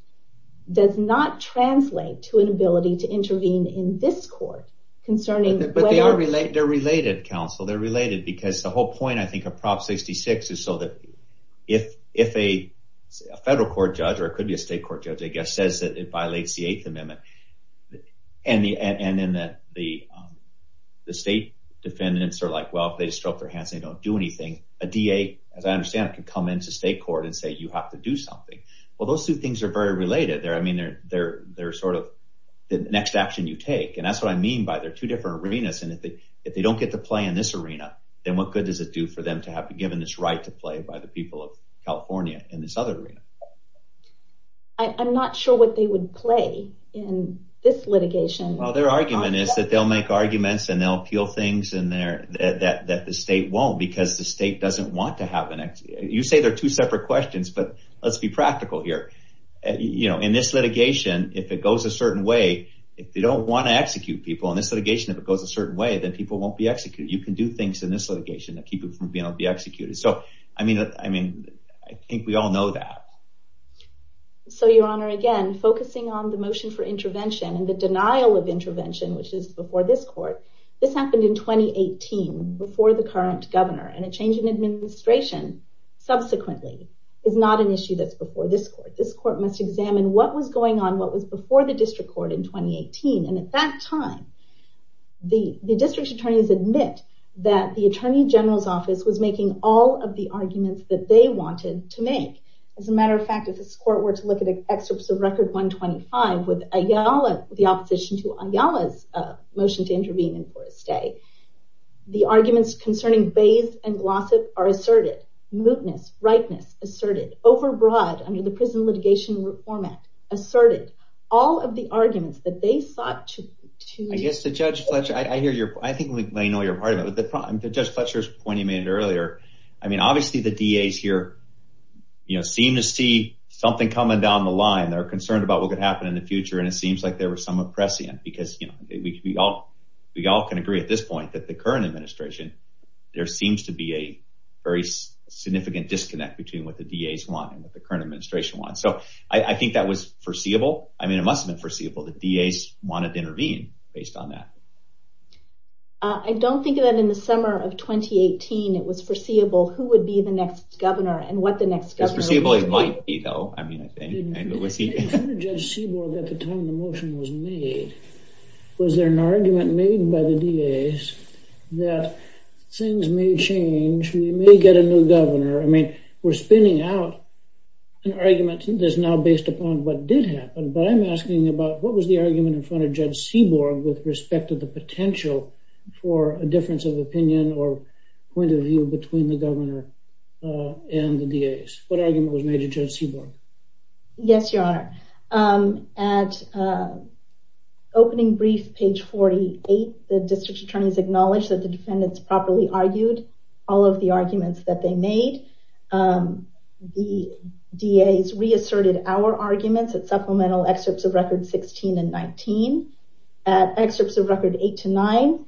does not translate to an ability to intervene in this court concerning whether- But they're related, counsel. They're related. Because the whole point, I think, of Prop 66 is so that if a federal court judge, or it could be a state court judge, I guess, says that it violates the Eighth Amendment, and then the state defendants are like, well, if they stroke their hands and they don't do anything, a DA, as I understand it, can come into state court and say, you have to do something. Well, those two things are very related. I mean, they're sort of the next action you take. And that's what I mean by they're two different arenas. And if they don't get to play in this arena, then what good does it do for them to have been given this right to play by the people of California in this other arena? I'm not sure what they would play in this litigation. Well, their argument is that they'll make arguments and they'll appeal things that the state won't because the state doesn't want to have an- You say they're two separate questions, but let's be practical here. In this litigation, if it goes a certain way, if they don't want to execute people, in this litigation, if it goes a certain way, then people won't be executed. You can do things in this litigation that keep them from being able to be executed. So, I mean, I think we all know that. So, Your Honor, again, focusing on the motion for intervention and the denial of intervention, which is before this court, this happened in 2018, before the current governor. And a change in administration subsequently is not an issue that's before this court. This court must examine what was going on, what was before the district court in 2018. And at that time, the district's attorneys admit that the attorney general's office was making all of the arguments that they wanted to make. As a matter of fact, if this court were to look at excerpts of Record 125 with Ayala, the opposition to Ayala's motion to intervene in court today, the arguments concerning bails and lawsuits are asserted. Luteness, ripeness, asserted. Overbroad, I mean, the prison litigation format, asserted. All of the arguments that they sought to- I guess the judge, I hear your- I think we know you're a part of it. But the judge Fletcher's point you made earlier, I mean, obviously the DAs here, you know, seem to see something coming down the line. They're concerned about what could happen in the future. And it seems like there was some oppression because we all can agree at this point that the current administration, there seems to be a very significant disconnect between what the DAs want and what the current administration wants. So I think that was foreseeable. I mean, it must have been foreseeable that DAs wanted to intervene based on that. I don't think that in the summer of 2018, it was foreseeable who would be the next governor and what the next governor would be. It's foreseeable it might be, though. I mean, I think it would be. Judge Seaborg, at the time the motion was made, was there an argument made by the DAs that things may change, we may get a new governor? I mean, we're spinning out an argument that's now based upon what did happen. But I'm asking about what was the argument in front of Judge Seaborg with respect to the potential for a difference of opinion or point of view between the governor and the DAs? What argument was made in front of Seaborg? Yes, Your Honor. At opening brief, page 48, the district attorneys acknowledged that the defendants properly argued all of the arguments that they made. The DAs reasserted our arguments at supplemental excerpts of records 16 and 19. At excerpts of records 8 to 9,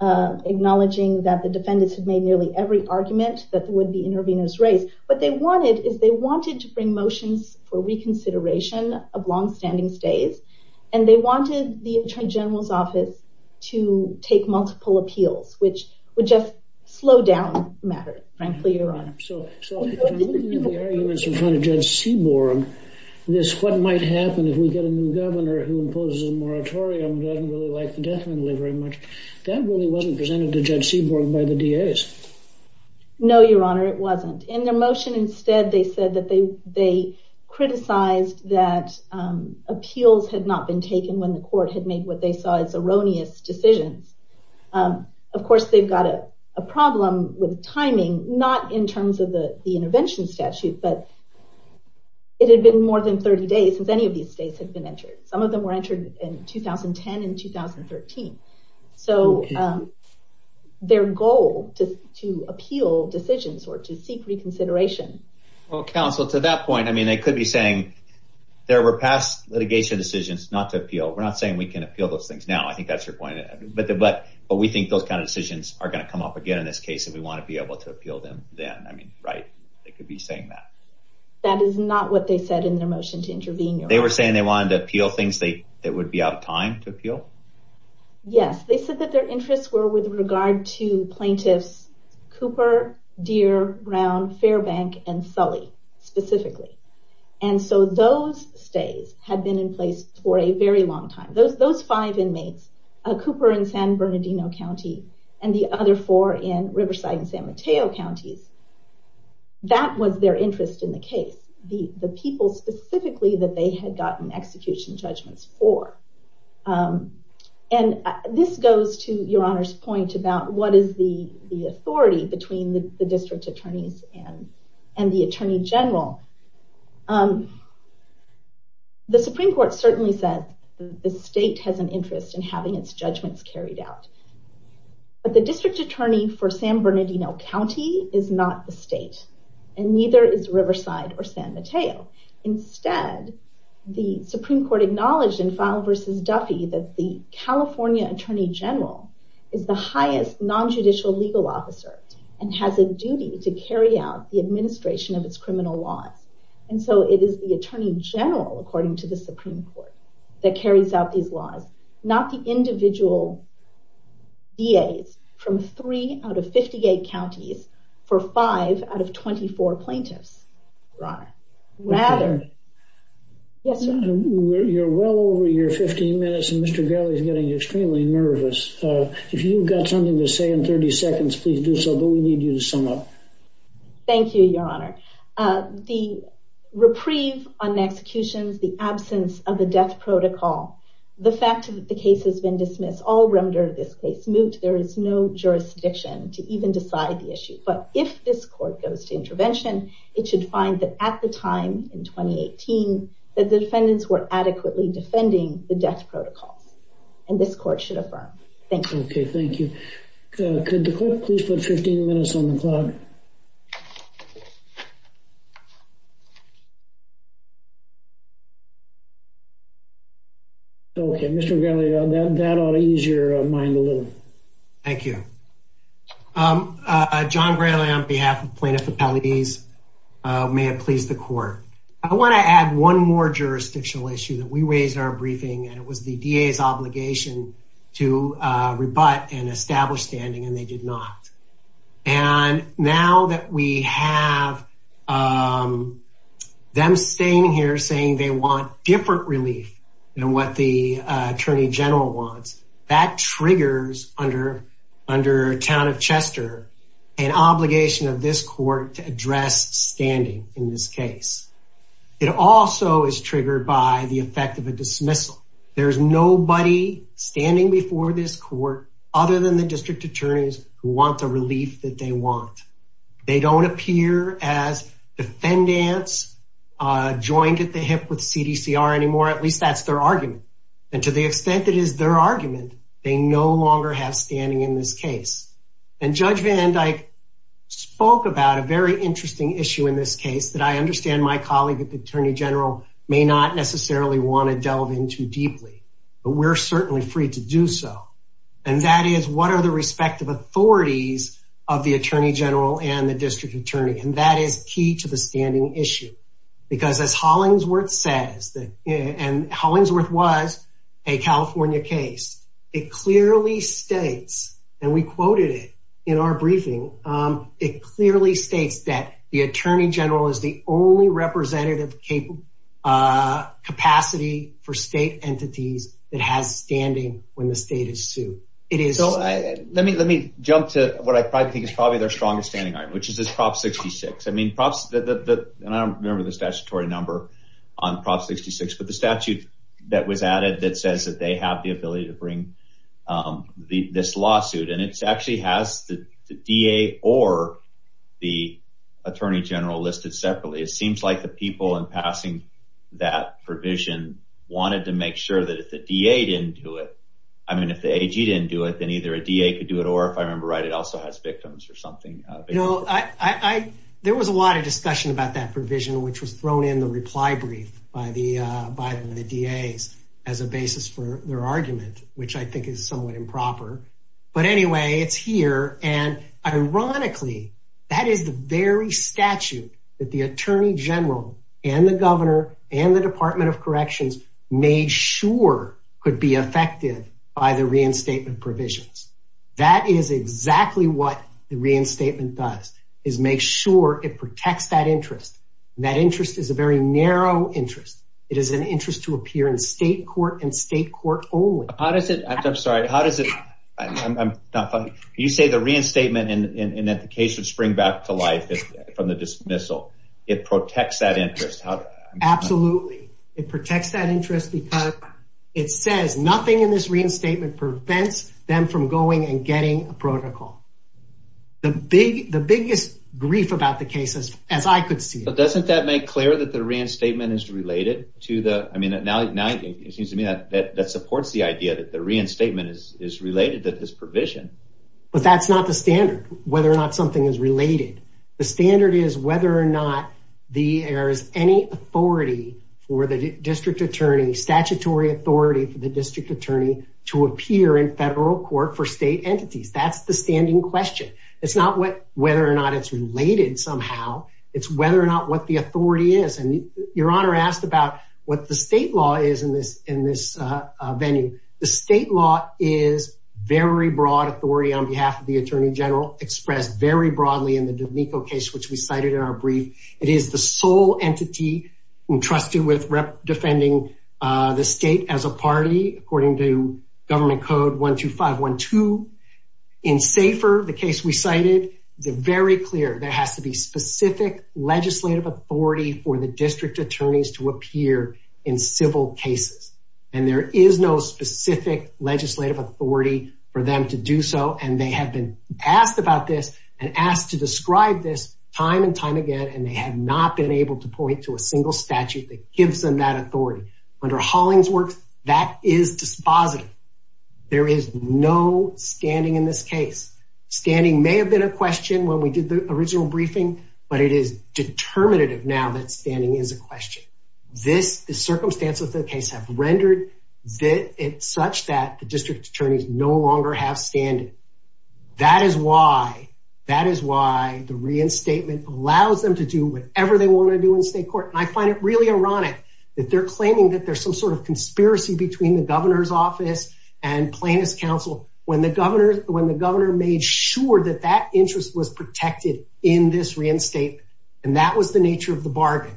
acknowledging that the defendants had made nearly every argument that there would be interveners raised. What they wanted is they wanted to bring motions for reconsideration of long-standing stays, and they wanted the Attorney General's office to take multiple appeals, which would just slow down the matter. So, Your Honor. So, I'm looking at the arguments in front of Judge Seaborg, this what might happen if we get a new governor who imposes a moratorium that doesn't really like the death penalty very much. That really wasn't presented to Judge Seaborg by the DAs. No, Your Honor, it wasn't. In their motion instead, they said that they criticized that appeals had not been taken when the court had made what they saw as erroneous decisions. Of course, they've got a problem with timing, not in terms of the intervention statute, but it had been more than 30 days since any of these stays had been entered. Some of them were entered in 2010 and 2013. So, their goal to appeal decisions or to seek reconsideration. Well, counsel, to that point, I mean, they could be saying there were past litigation decisions not to appeal. We're not saying we can appeal those things now. I think that's your point. But we think those kind of decisions are gonna come up again in this case if we want to be able to appeal them then. I mean, right, they could be saying that. That is not what they said in their motion to intervene. They were saying they wanted to appeal things that would be out of time to appeal? Yes, they said that their interests were with regard to plaintiffs Cooper, Deere, Brown, Fairbank, and Sully, specifically. And so, those stays had been in place for a very long time. Those five inmates, Cooper in San Bernardino County and the other four in Riverside and San Mateo Counties, that was their interest in the case. The people, specifically, that they had gotten execution judgments for. And this goes to Your Honor's point about what is the authority between the district attorneys and the attorney general. The Supreme Court certainly said the state has an interest in having its judgments carried out. But the district attorney for San Bernardino County is not the state. And neither is Riverside or San Mateo. Instead, the Supreme Court acknowledged in Fowler v. Duffy that the California attorney general is the highest non-judicial legal officer and has a duty to carry out the administration of its criminal laws. And so, it is the attorney general, according to the Supreme Court, that carries out these laws. Not the individual DAs from three out of 58 counties for five out of 24 plaintiffs. Your Honor. You're well over your 15 minutes and Mr. Garley is getting extremely nervous. If you've got something to say in 30 seconds, please do so, but we need you to sum up. Thank you, Your Honor. The reprieve on the executions, the absence of the death protocol, the fact that the case has been dismissed, all remnant of this case moved, there is no jurisdiction to even decide the issue. But if this court goes to intervention, it should find that at the time, in 2018, the defendants were adequately defending the death protocol. And this court should affirm. Thank you. Okay, thank you. Could the court please put 15 minutes on the clock? Okay, Mr. Garley, that ought to ease your mind a little. Thank you. John Garley on behalf of Plaintiffs Appellees. May it please the court. I want to add one more jurisdictional issue that we raised in our briefing and it was the DA's obligation to rebut and establish standing and they did not. And now that we have them staying here saying they want different relief than what the Attorney General wants, that triggers under Town of Chester an obligation of this court to address standing in this case. It also is triggered by the effect of a dismissal. There's nobody standing before this court other than the district attorneys who want the relief that they want. They don't appear as defendants joined at the hip with CDCR anymore, at least that's their argument. And to the extent it is their argument, they no longer have standing in this case. And Judge Van Dyke spoke about a very interesting issue in this case that I understand my colleague at the Attorney General may not necessarily want to delve into deeply, but we're certainly free to do so. And that is what are the respective authorities of the Attorney General and the district attorney? And that is key to the standing issue because as Hollingsworth says, and Hollingsworth was a California case, it clearly states, and we quoted it in our briefing, it clearly states that the Attorney General is the only representative capacity for state entities that have standing when the state is sued. It is- Let me jump to what I think is probably their strongest standing argument, which is this Prop 66. And I don't remember the statutory number on Prop 66, but the statute that was added that says that they have the ability to bring this lawsuit. And it actually has the DA or the Attorney General listed separately. It seems like the people in passing that provision wanted to make sure that if the DA didn't do it, I mean, if the AG didn't do it, then either a DA could do it or if I remember right, it also has victims or something. There was a lot of discussion about that provision, which was thrown in the reply brief by the DA as a basis for their argument, which I think is somewhat improper. But anyway, it's here. And ironically, that is the very statute that the Attorney General and the Governor and the Department of Corrections made sure could be effective by the reinstatement provisions. That is exactly what the reinstatement does, is make sure it protects that interest. That interest is a very narrow interest. It is an interest to appear in state court and state court only. How does it, I'm sorry, how does it, I'm not funny, you say the reinstatement and implications spring back to life from the dismissal. It protects that interest. Absolutely, it protects that interest because it says nothing in this reinstatement prevents them from going and getting a protocol. The biggest grief about the case is, as I could see. But doesn't that make clear that the reinstatement is related to the, I mean, now it seems to me that supports the idea that the reinstatement is related to this provision. But that's not the standard, whether or not something is related. The standard is whether or not there is any authority for the District Attorney, statutory authority for the District Attorney to appear in federal court for state entities. That's the standing question. It's not whether or not it's related somehow, it's whether or not what the authority is. And your Honor asked about what the state law is in this venue. The state law is very broad authority on behalf of the Attorney General expressed very broadly in the Domenico case, which we cited in our brief. It is the sole entity entrusted with defending the state as a party, according to Government Code 12512. In SAFER, the case we cited, they're very clear. There has to be specific legislative authority for the District Attorneys to appear in civil cases. And there is no specific legislative authority for them to do so. And they have been asked about this and asked to describe this time and time again. And they have not been able to point to a single statute that gives them that authority. Under Hollingsworth, that is dispositive. There is no standing in this case. Standing may have been a question when we did the original briefing, but it is determinative now that standing is a question. The circumstances of the case have rendered it such that the District Attorneys no longer have standing. That is why the reinstatement allows them to do whatever they want to do in state court. that there's some sort of conspiracy between the governor's office and plaintiff's counsel. When the governor made sure that that interest was protected in this reinstatement, and that was the nature of the bargain.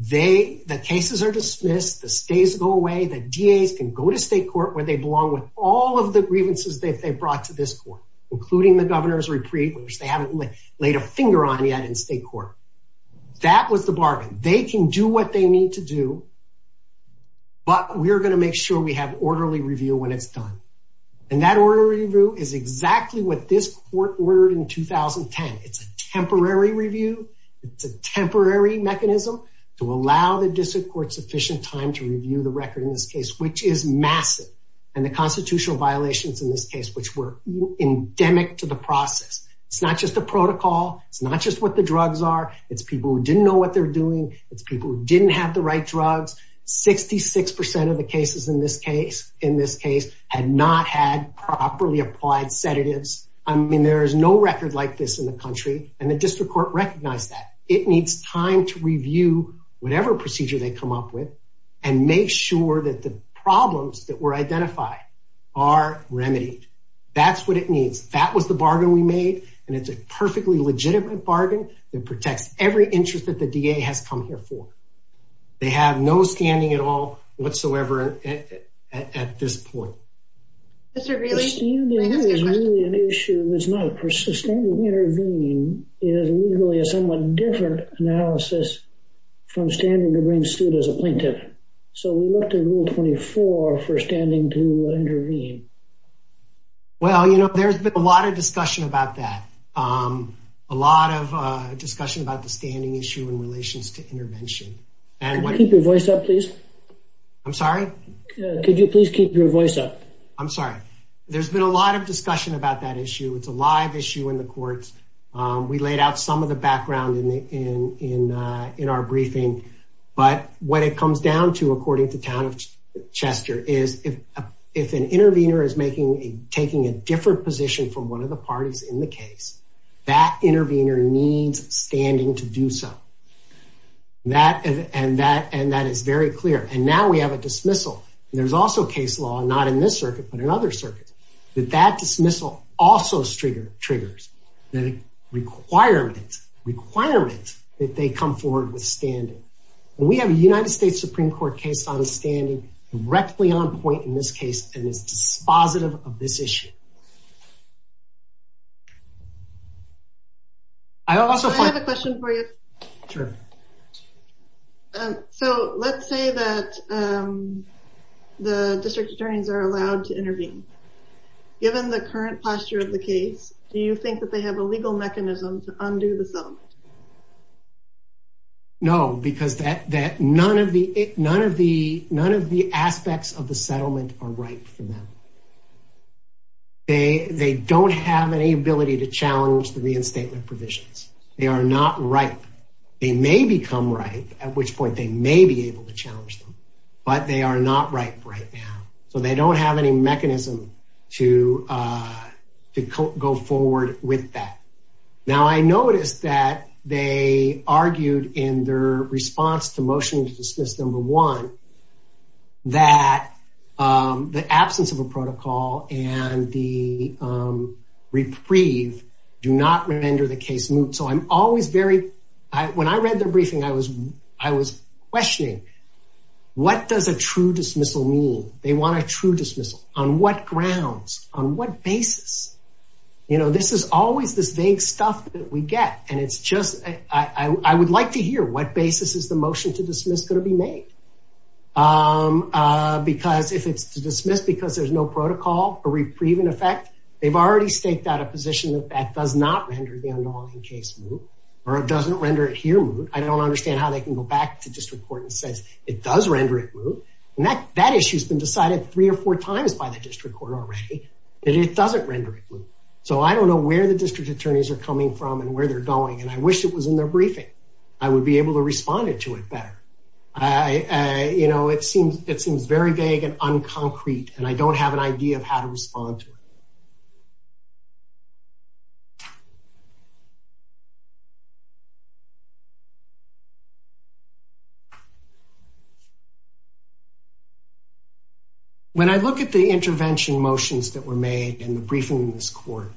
The cases are dismissed, the stays go away, the DAs can go to state court where they belong with all of the grievances they've brought to this court, including the governor's retreat, which they haven't laid a finger on yet in state court. That was the bargain. They can do what they need to do, but we're gonna make sure we have orderly review when it's done. And that orderly review is exactly what this court ordered in 2010. It's a temporary review. It's a temporary mechanism to allow the district court sufficient time to review the record in this case, which is massive. And the constitutional violations in this case, which were endemic to the process. It's not just a protocol. It's not just what the drugs are. It's people who didn't know what they're doing. It's people who didn't have the right drugs. 66% of the cases in this case had not had properly applied sedatives. I mean, there is no record like this in the country and the district court recognized that. It needs time to review whatever procedure they come up with and make sure that the problems that were identified are remedied. That's what it needs. That was the bargain we made and it's a perfectly legitimate bargain and protects every interest that the DA has come here for. They have no standing at all whatsoever at this point. Mr. Greenlee, do you think there is really an issue, is not a persistent intervene is legally a somewhat different analysis from standing to bring suit as a plaintiff. So we looked at rule 24 for standing to intervene. Well, you know, there's been a lot of discussion about that. A lot of discussion about the standing issue in relations to intervention. Can you keep your voice up, please? I'm sorry? Could you please keep your voice up? I'm sorry. There's been a lot of discussion about that issue. It's a live issue in the courts. We laid out some of the background in our briefing, but what it comes down to according to town of Chester is if an intervener is taking a different position from one of the parties in the case, that intervener needs standing to do so. And that is very clear. And now we have a dismissal. There's also case law, not in this circuit, but in other circuits, that that dismissal also triggers the requirement that they come forward with standing. We have a United States Supreme Court case on standing directly on point in this case and is dispositive of this issue. I also have a question for you. Sure. So let's say that the district attorneys are allowed to intervene. Given the current posture of the case, do you think that they have a legal mechanism to undo the sentence? No, because none of the aspects of the settlement are right for them. They don't have any ability to challenge the reinstatement provisions. They are not right. They may become right, at which point they may be able to challenge them, but they are not right right now. So they don't have any mechanism to go forward with that. Now, I noticed that they argued in their response to motions to system number one that the absence of a protocol and the reprieve do not render the case moot. So I'm always very, when I read the briefing, I was questioning, what does a true dismissal mean? They want a true dismissal. On what grounds? On what basis? You know, this is always the same stuff that we get. And it's just, I would like to hear, what basis is the motion to dismiss going to be made? Because if it's dismissed because there's no protocol or reprieve in effect, they've already staked out a position that that does not render the unlawful case moot, or it doesn't render it moot. I don't understand how they can go back to district court and say it does render it moot. And that issue's been decided three or four times by the district court already, that it doesn't render it moot. So I don't know where the district attorneys are coming from and where they're going, and I wish it was in their briefing. I would be able to respond to it better. You know, it seems very vague and unconcrete, and I don't have an idea of how to respond to it. When I look at the intervention motions that were made in the briefing in this court,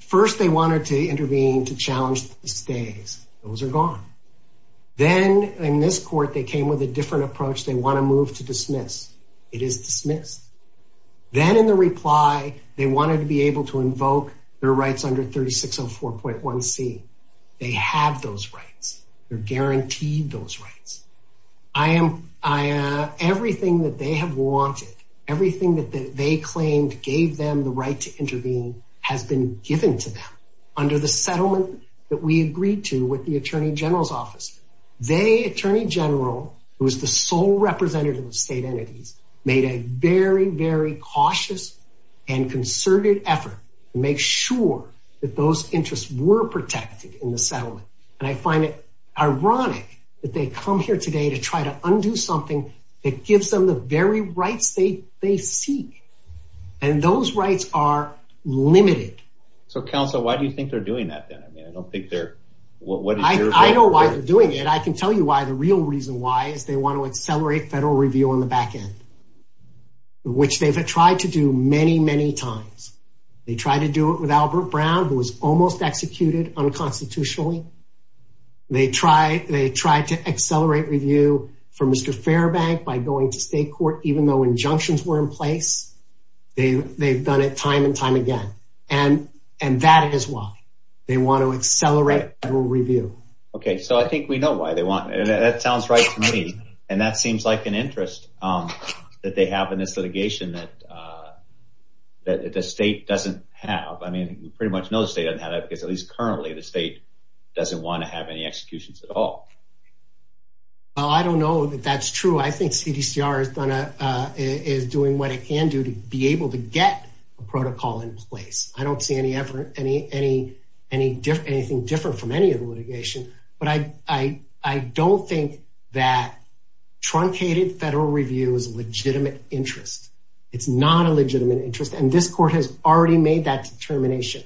first they wanted to intervene to challenge the stays. Those are gone. Then in this court, they came with a different approach. They want to move to dismiss. It is dismissed. Then in the reply, they wanted to be able to invoke their rights under 3604.1c. They have those rights. They're guaranteed those rights. Everything that they have wanted, everything that they claimed gave them the right to intervene has been given to them. Under the settlement that we agreed to with the attorney general's office, they, attorney general, who is the sole representative of state entities, made a very, very cautious and concerted effort to make sure that those interests were protected in the settlement. And I find it ironic that they come here today to try to undo something that gives them the very rights they seek. And those rights are limited. So counsel, why do you think they're doing that then? I mean, I don't think they're... I know why they're doing it. I can tell you why the real reason why is they want to accelerate federal review on the back end, which they've tried to do many, many times. They tried to do it with Albert Brown, who was almost executed unconstitutionally. They tried to accelerate review for Mr. Fairbank by going to state court, even though injunctions were in place. They've done it time and time again. And that is why. They want to accelerate federal review. Okay, so I think we know why they want it. That sounds right to me. And that seems like an interest that they have in this litigation that the state doesn't have. I mean, we pretty much know the state doesn't have it, because at least currently, the state doesn't want to have any executions at all. Well, I don't know that that's true. I think CDCR is doing what it can do to be able to get a protocol in place. I don't see anything different from any of the litigation, but I don't think that truncated federal review is a legitimate interest. It's not a legitimate interest. And this court has already made that determination.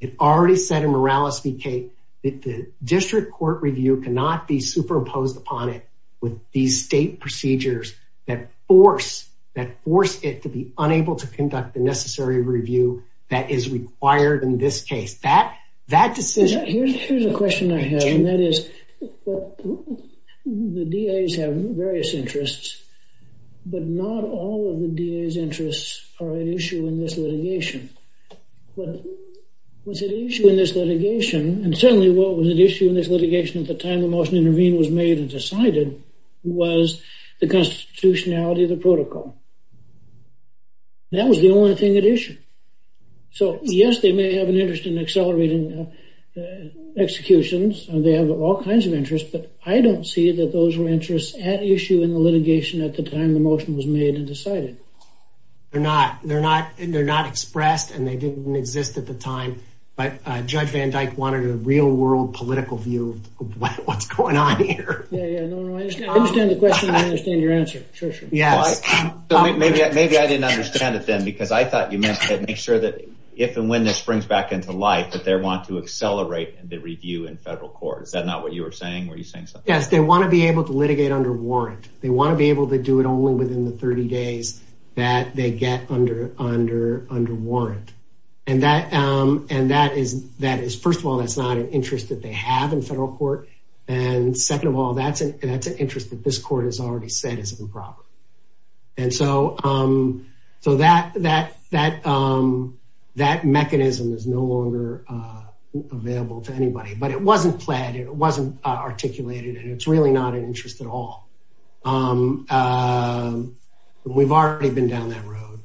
It's already set a morality case. The district court review cannot be superimposed upon it with these state procedures that force it to be unable to conduct the necessary review that is required in this case. That decision- Here's a question I have, and that is the DAs have various interests, but not all of the DAs' interests are an issue in this litigation. and certainly was it an issue in this litigation at the time the motion was made and decided was the constitutionality of the protocol. That was the only thing at issue. So yes, they may have an interest in accelerating executions, and they have all kinds of interests, but I don't see that those were interests at issue in the litigation at the time the motion was made and decided. They're not expressed, and they didn't exist at the time, but Judge Van Dyke wanted a real-world political view of what's going on here. I understand the question. I understand your answer, Trisha. Maybe I didn't understand it then because I thought you meant to make sure that if and when this springs back into life that they want to accelerate the review in federal court. Is that not what you were saying? Were you saying something else? Yes, they want to be able to litigate under warrant. They want to be able to do it only within the 30 days that they get under warrant, and that is, first of all, it's not an interest that they have in federal court, and second of all, that's an interest that this court has already said is improper. And so that mechanism is no longer available to anybody, but it wasn't planned. It wasn't articulated, and it's really not an interest at all. We've already been down that road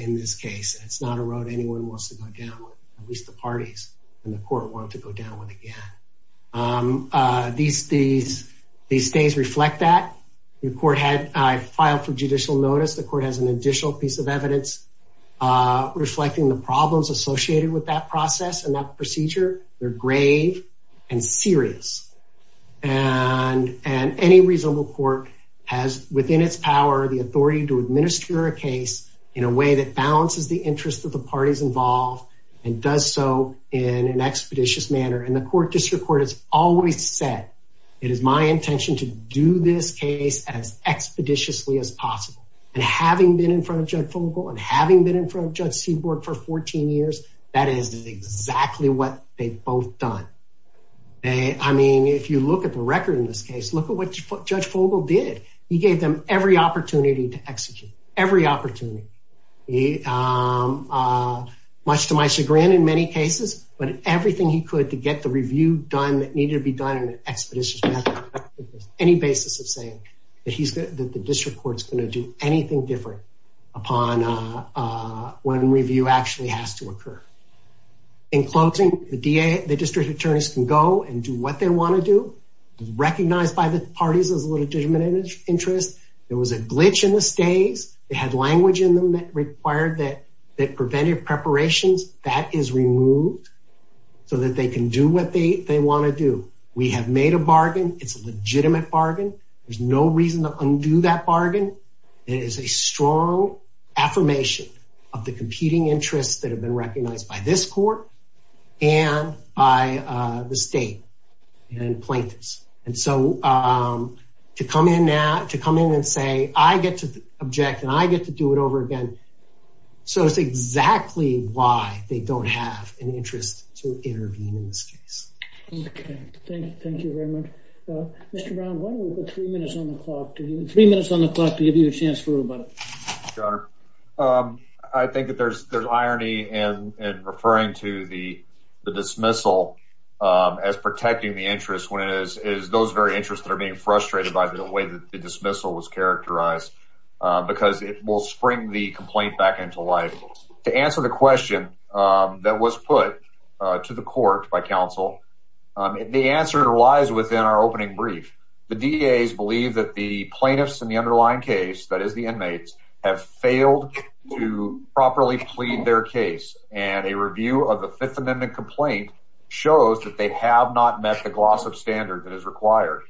in this case. It's not a road anyone wants to go down, at least the parties in the court want to go down one again. These days reflect that. The court had filed for judicial notice. The court has an additional piece of evidence reflecting the problems associated with that process and that procedure. They're grave and serious, and any reasonable court has within its power the authority to administer a case in a way that balances the interests of the parties involved and does so in an expeditious manner. And the court district court has always said, it is my intention to do this case as expeditiously as possible. And having been in front of Judge Fogle and having been in front of Judge Seaborg for 14 years, that is exactly what they've both done. I mean, if you look at the record in this case, look at what Judge Fogle did. He gave them every opportunity to execute, every opportunity. Much to my chagrin in many cases, but everything he could to get the review done that needed to be done in an expeditious manner, any basis of saying that the district court is going to do anything different upon when review actually has to occur. In closing, the district attorneys can go and do what they want to do, recognized by the parties of legitimate interest. There was a glitch in the stage. It had language in them that required that preventive preparations, that is removed so that they can do what they want to do. We have made a bargain. It's a legitimate bargain. There's no reason to undo that bargain. It is a strong affirmation of the competing interests that have been recognized by this court and by the state and plaintiffs. And so to come in and say, I get to object and I get to do it over again, so it's exactly why they don't have any interest to intervene in this case. Okay, thank you very much. Mr. Brown, why don't we put three minutes on the clock to give you a chance to think about it. Sure. I think that there's irony in referring to the dismissal as protecting the interest when it is those very interests that are being frustrated by the way the dismissal was characterized because it will spring the complaint back into life. To answer the question that was put to the court by counsel, the answer lies within our opening brief. The DEAs believe that the plaintiffs in the underlying case, that is the inmates, have failed to properly plead their case. And a review of the Fifth Amendment complaint shows that they have not met the gloss of standard that is required.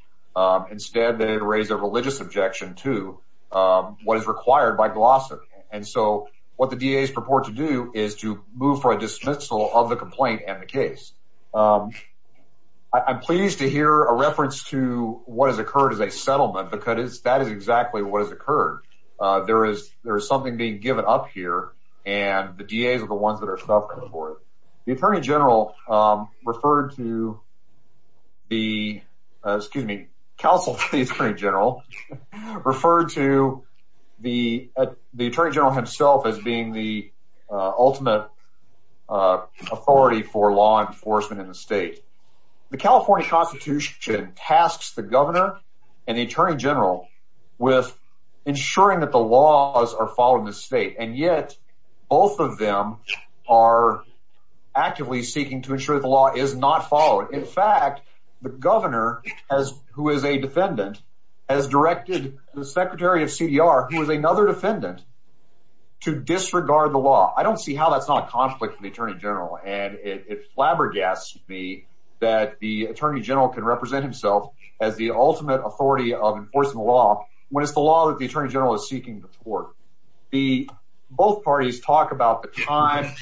Instead, they have raised a religious objection to what is required by glossary. And so what the DEAs purport to do is to move for a dismissal of the complaint and the case. I'm pleased to hear a reference to what has occurred as a settlement because that is exactly what has occurred. There is something being given up here and the DEAs are the ones that are suffering for it. The Attorney General referred to the, excuse me, counsel to the Attorney General, referred to the Attorney General himself as being the ultimate authority for law enforcement in the state. The California Constitution tasks the governor and the Attorney General with ensuring that the laws are followed in the state. And yet, both of them are actively seeking to ensure the law is not followed. In fact, the governor, who is a defendant, has directed the Secretary of CDR, who is another defendant, to disregard the law. I don't see how that's not a conflict with the Attorney General. And it flabbergasts me that the Attorney General can represent himself as the ultimate authority of enforcing the law when it's the law that the Attorney General is seeking to support. Both parties talk about the time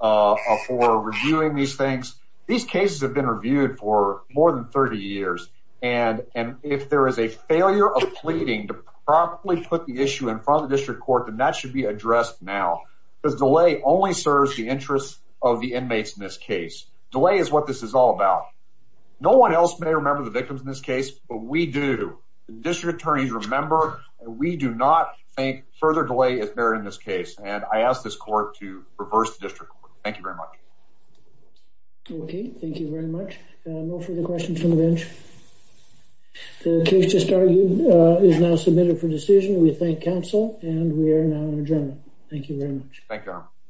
for reviewing these things. These cases have been reviewed for more than 30 years. And if there is a failure of pleading to properly put the issue in front of the district court, then that should be addressed now because delay only serves the interests of the inmates in this case. Delay is what this is all about. No one else may remember the victims in this case, but we do. District attorneys remember. We do not make further delay if they're in this case. And I ask this court to reverse the district court. Thank you very much. Okay, thank you very much. No further questions from the bench? The case just argued is now submitted for decision. We thank counsel, and we are now in adjournment. Thank you very much.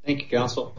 Thank you, counsel.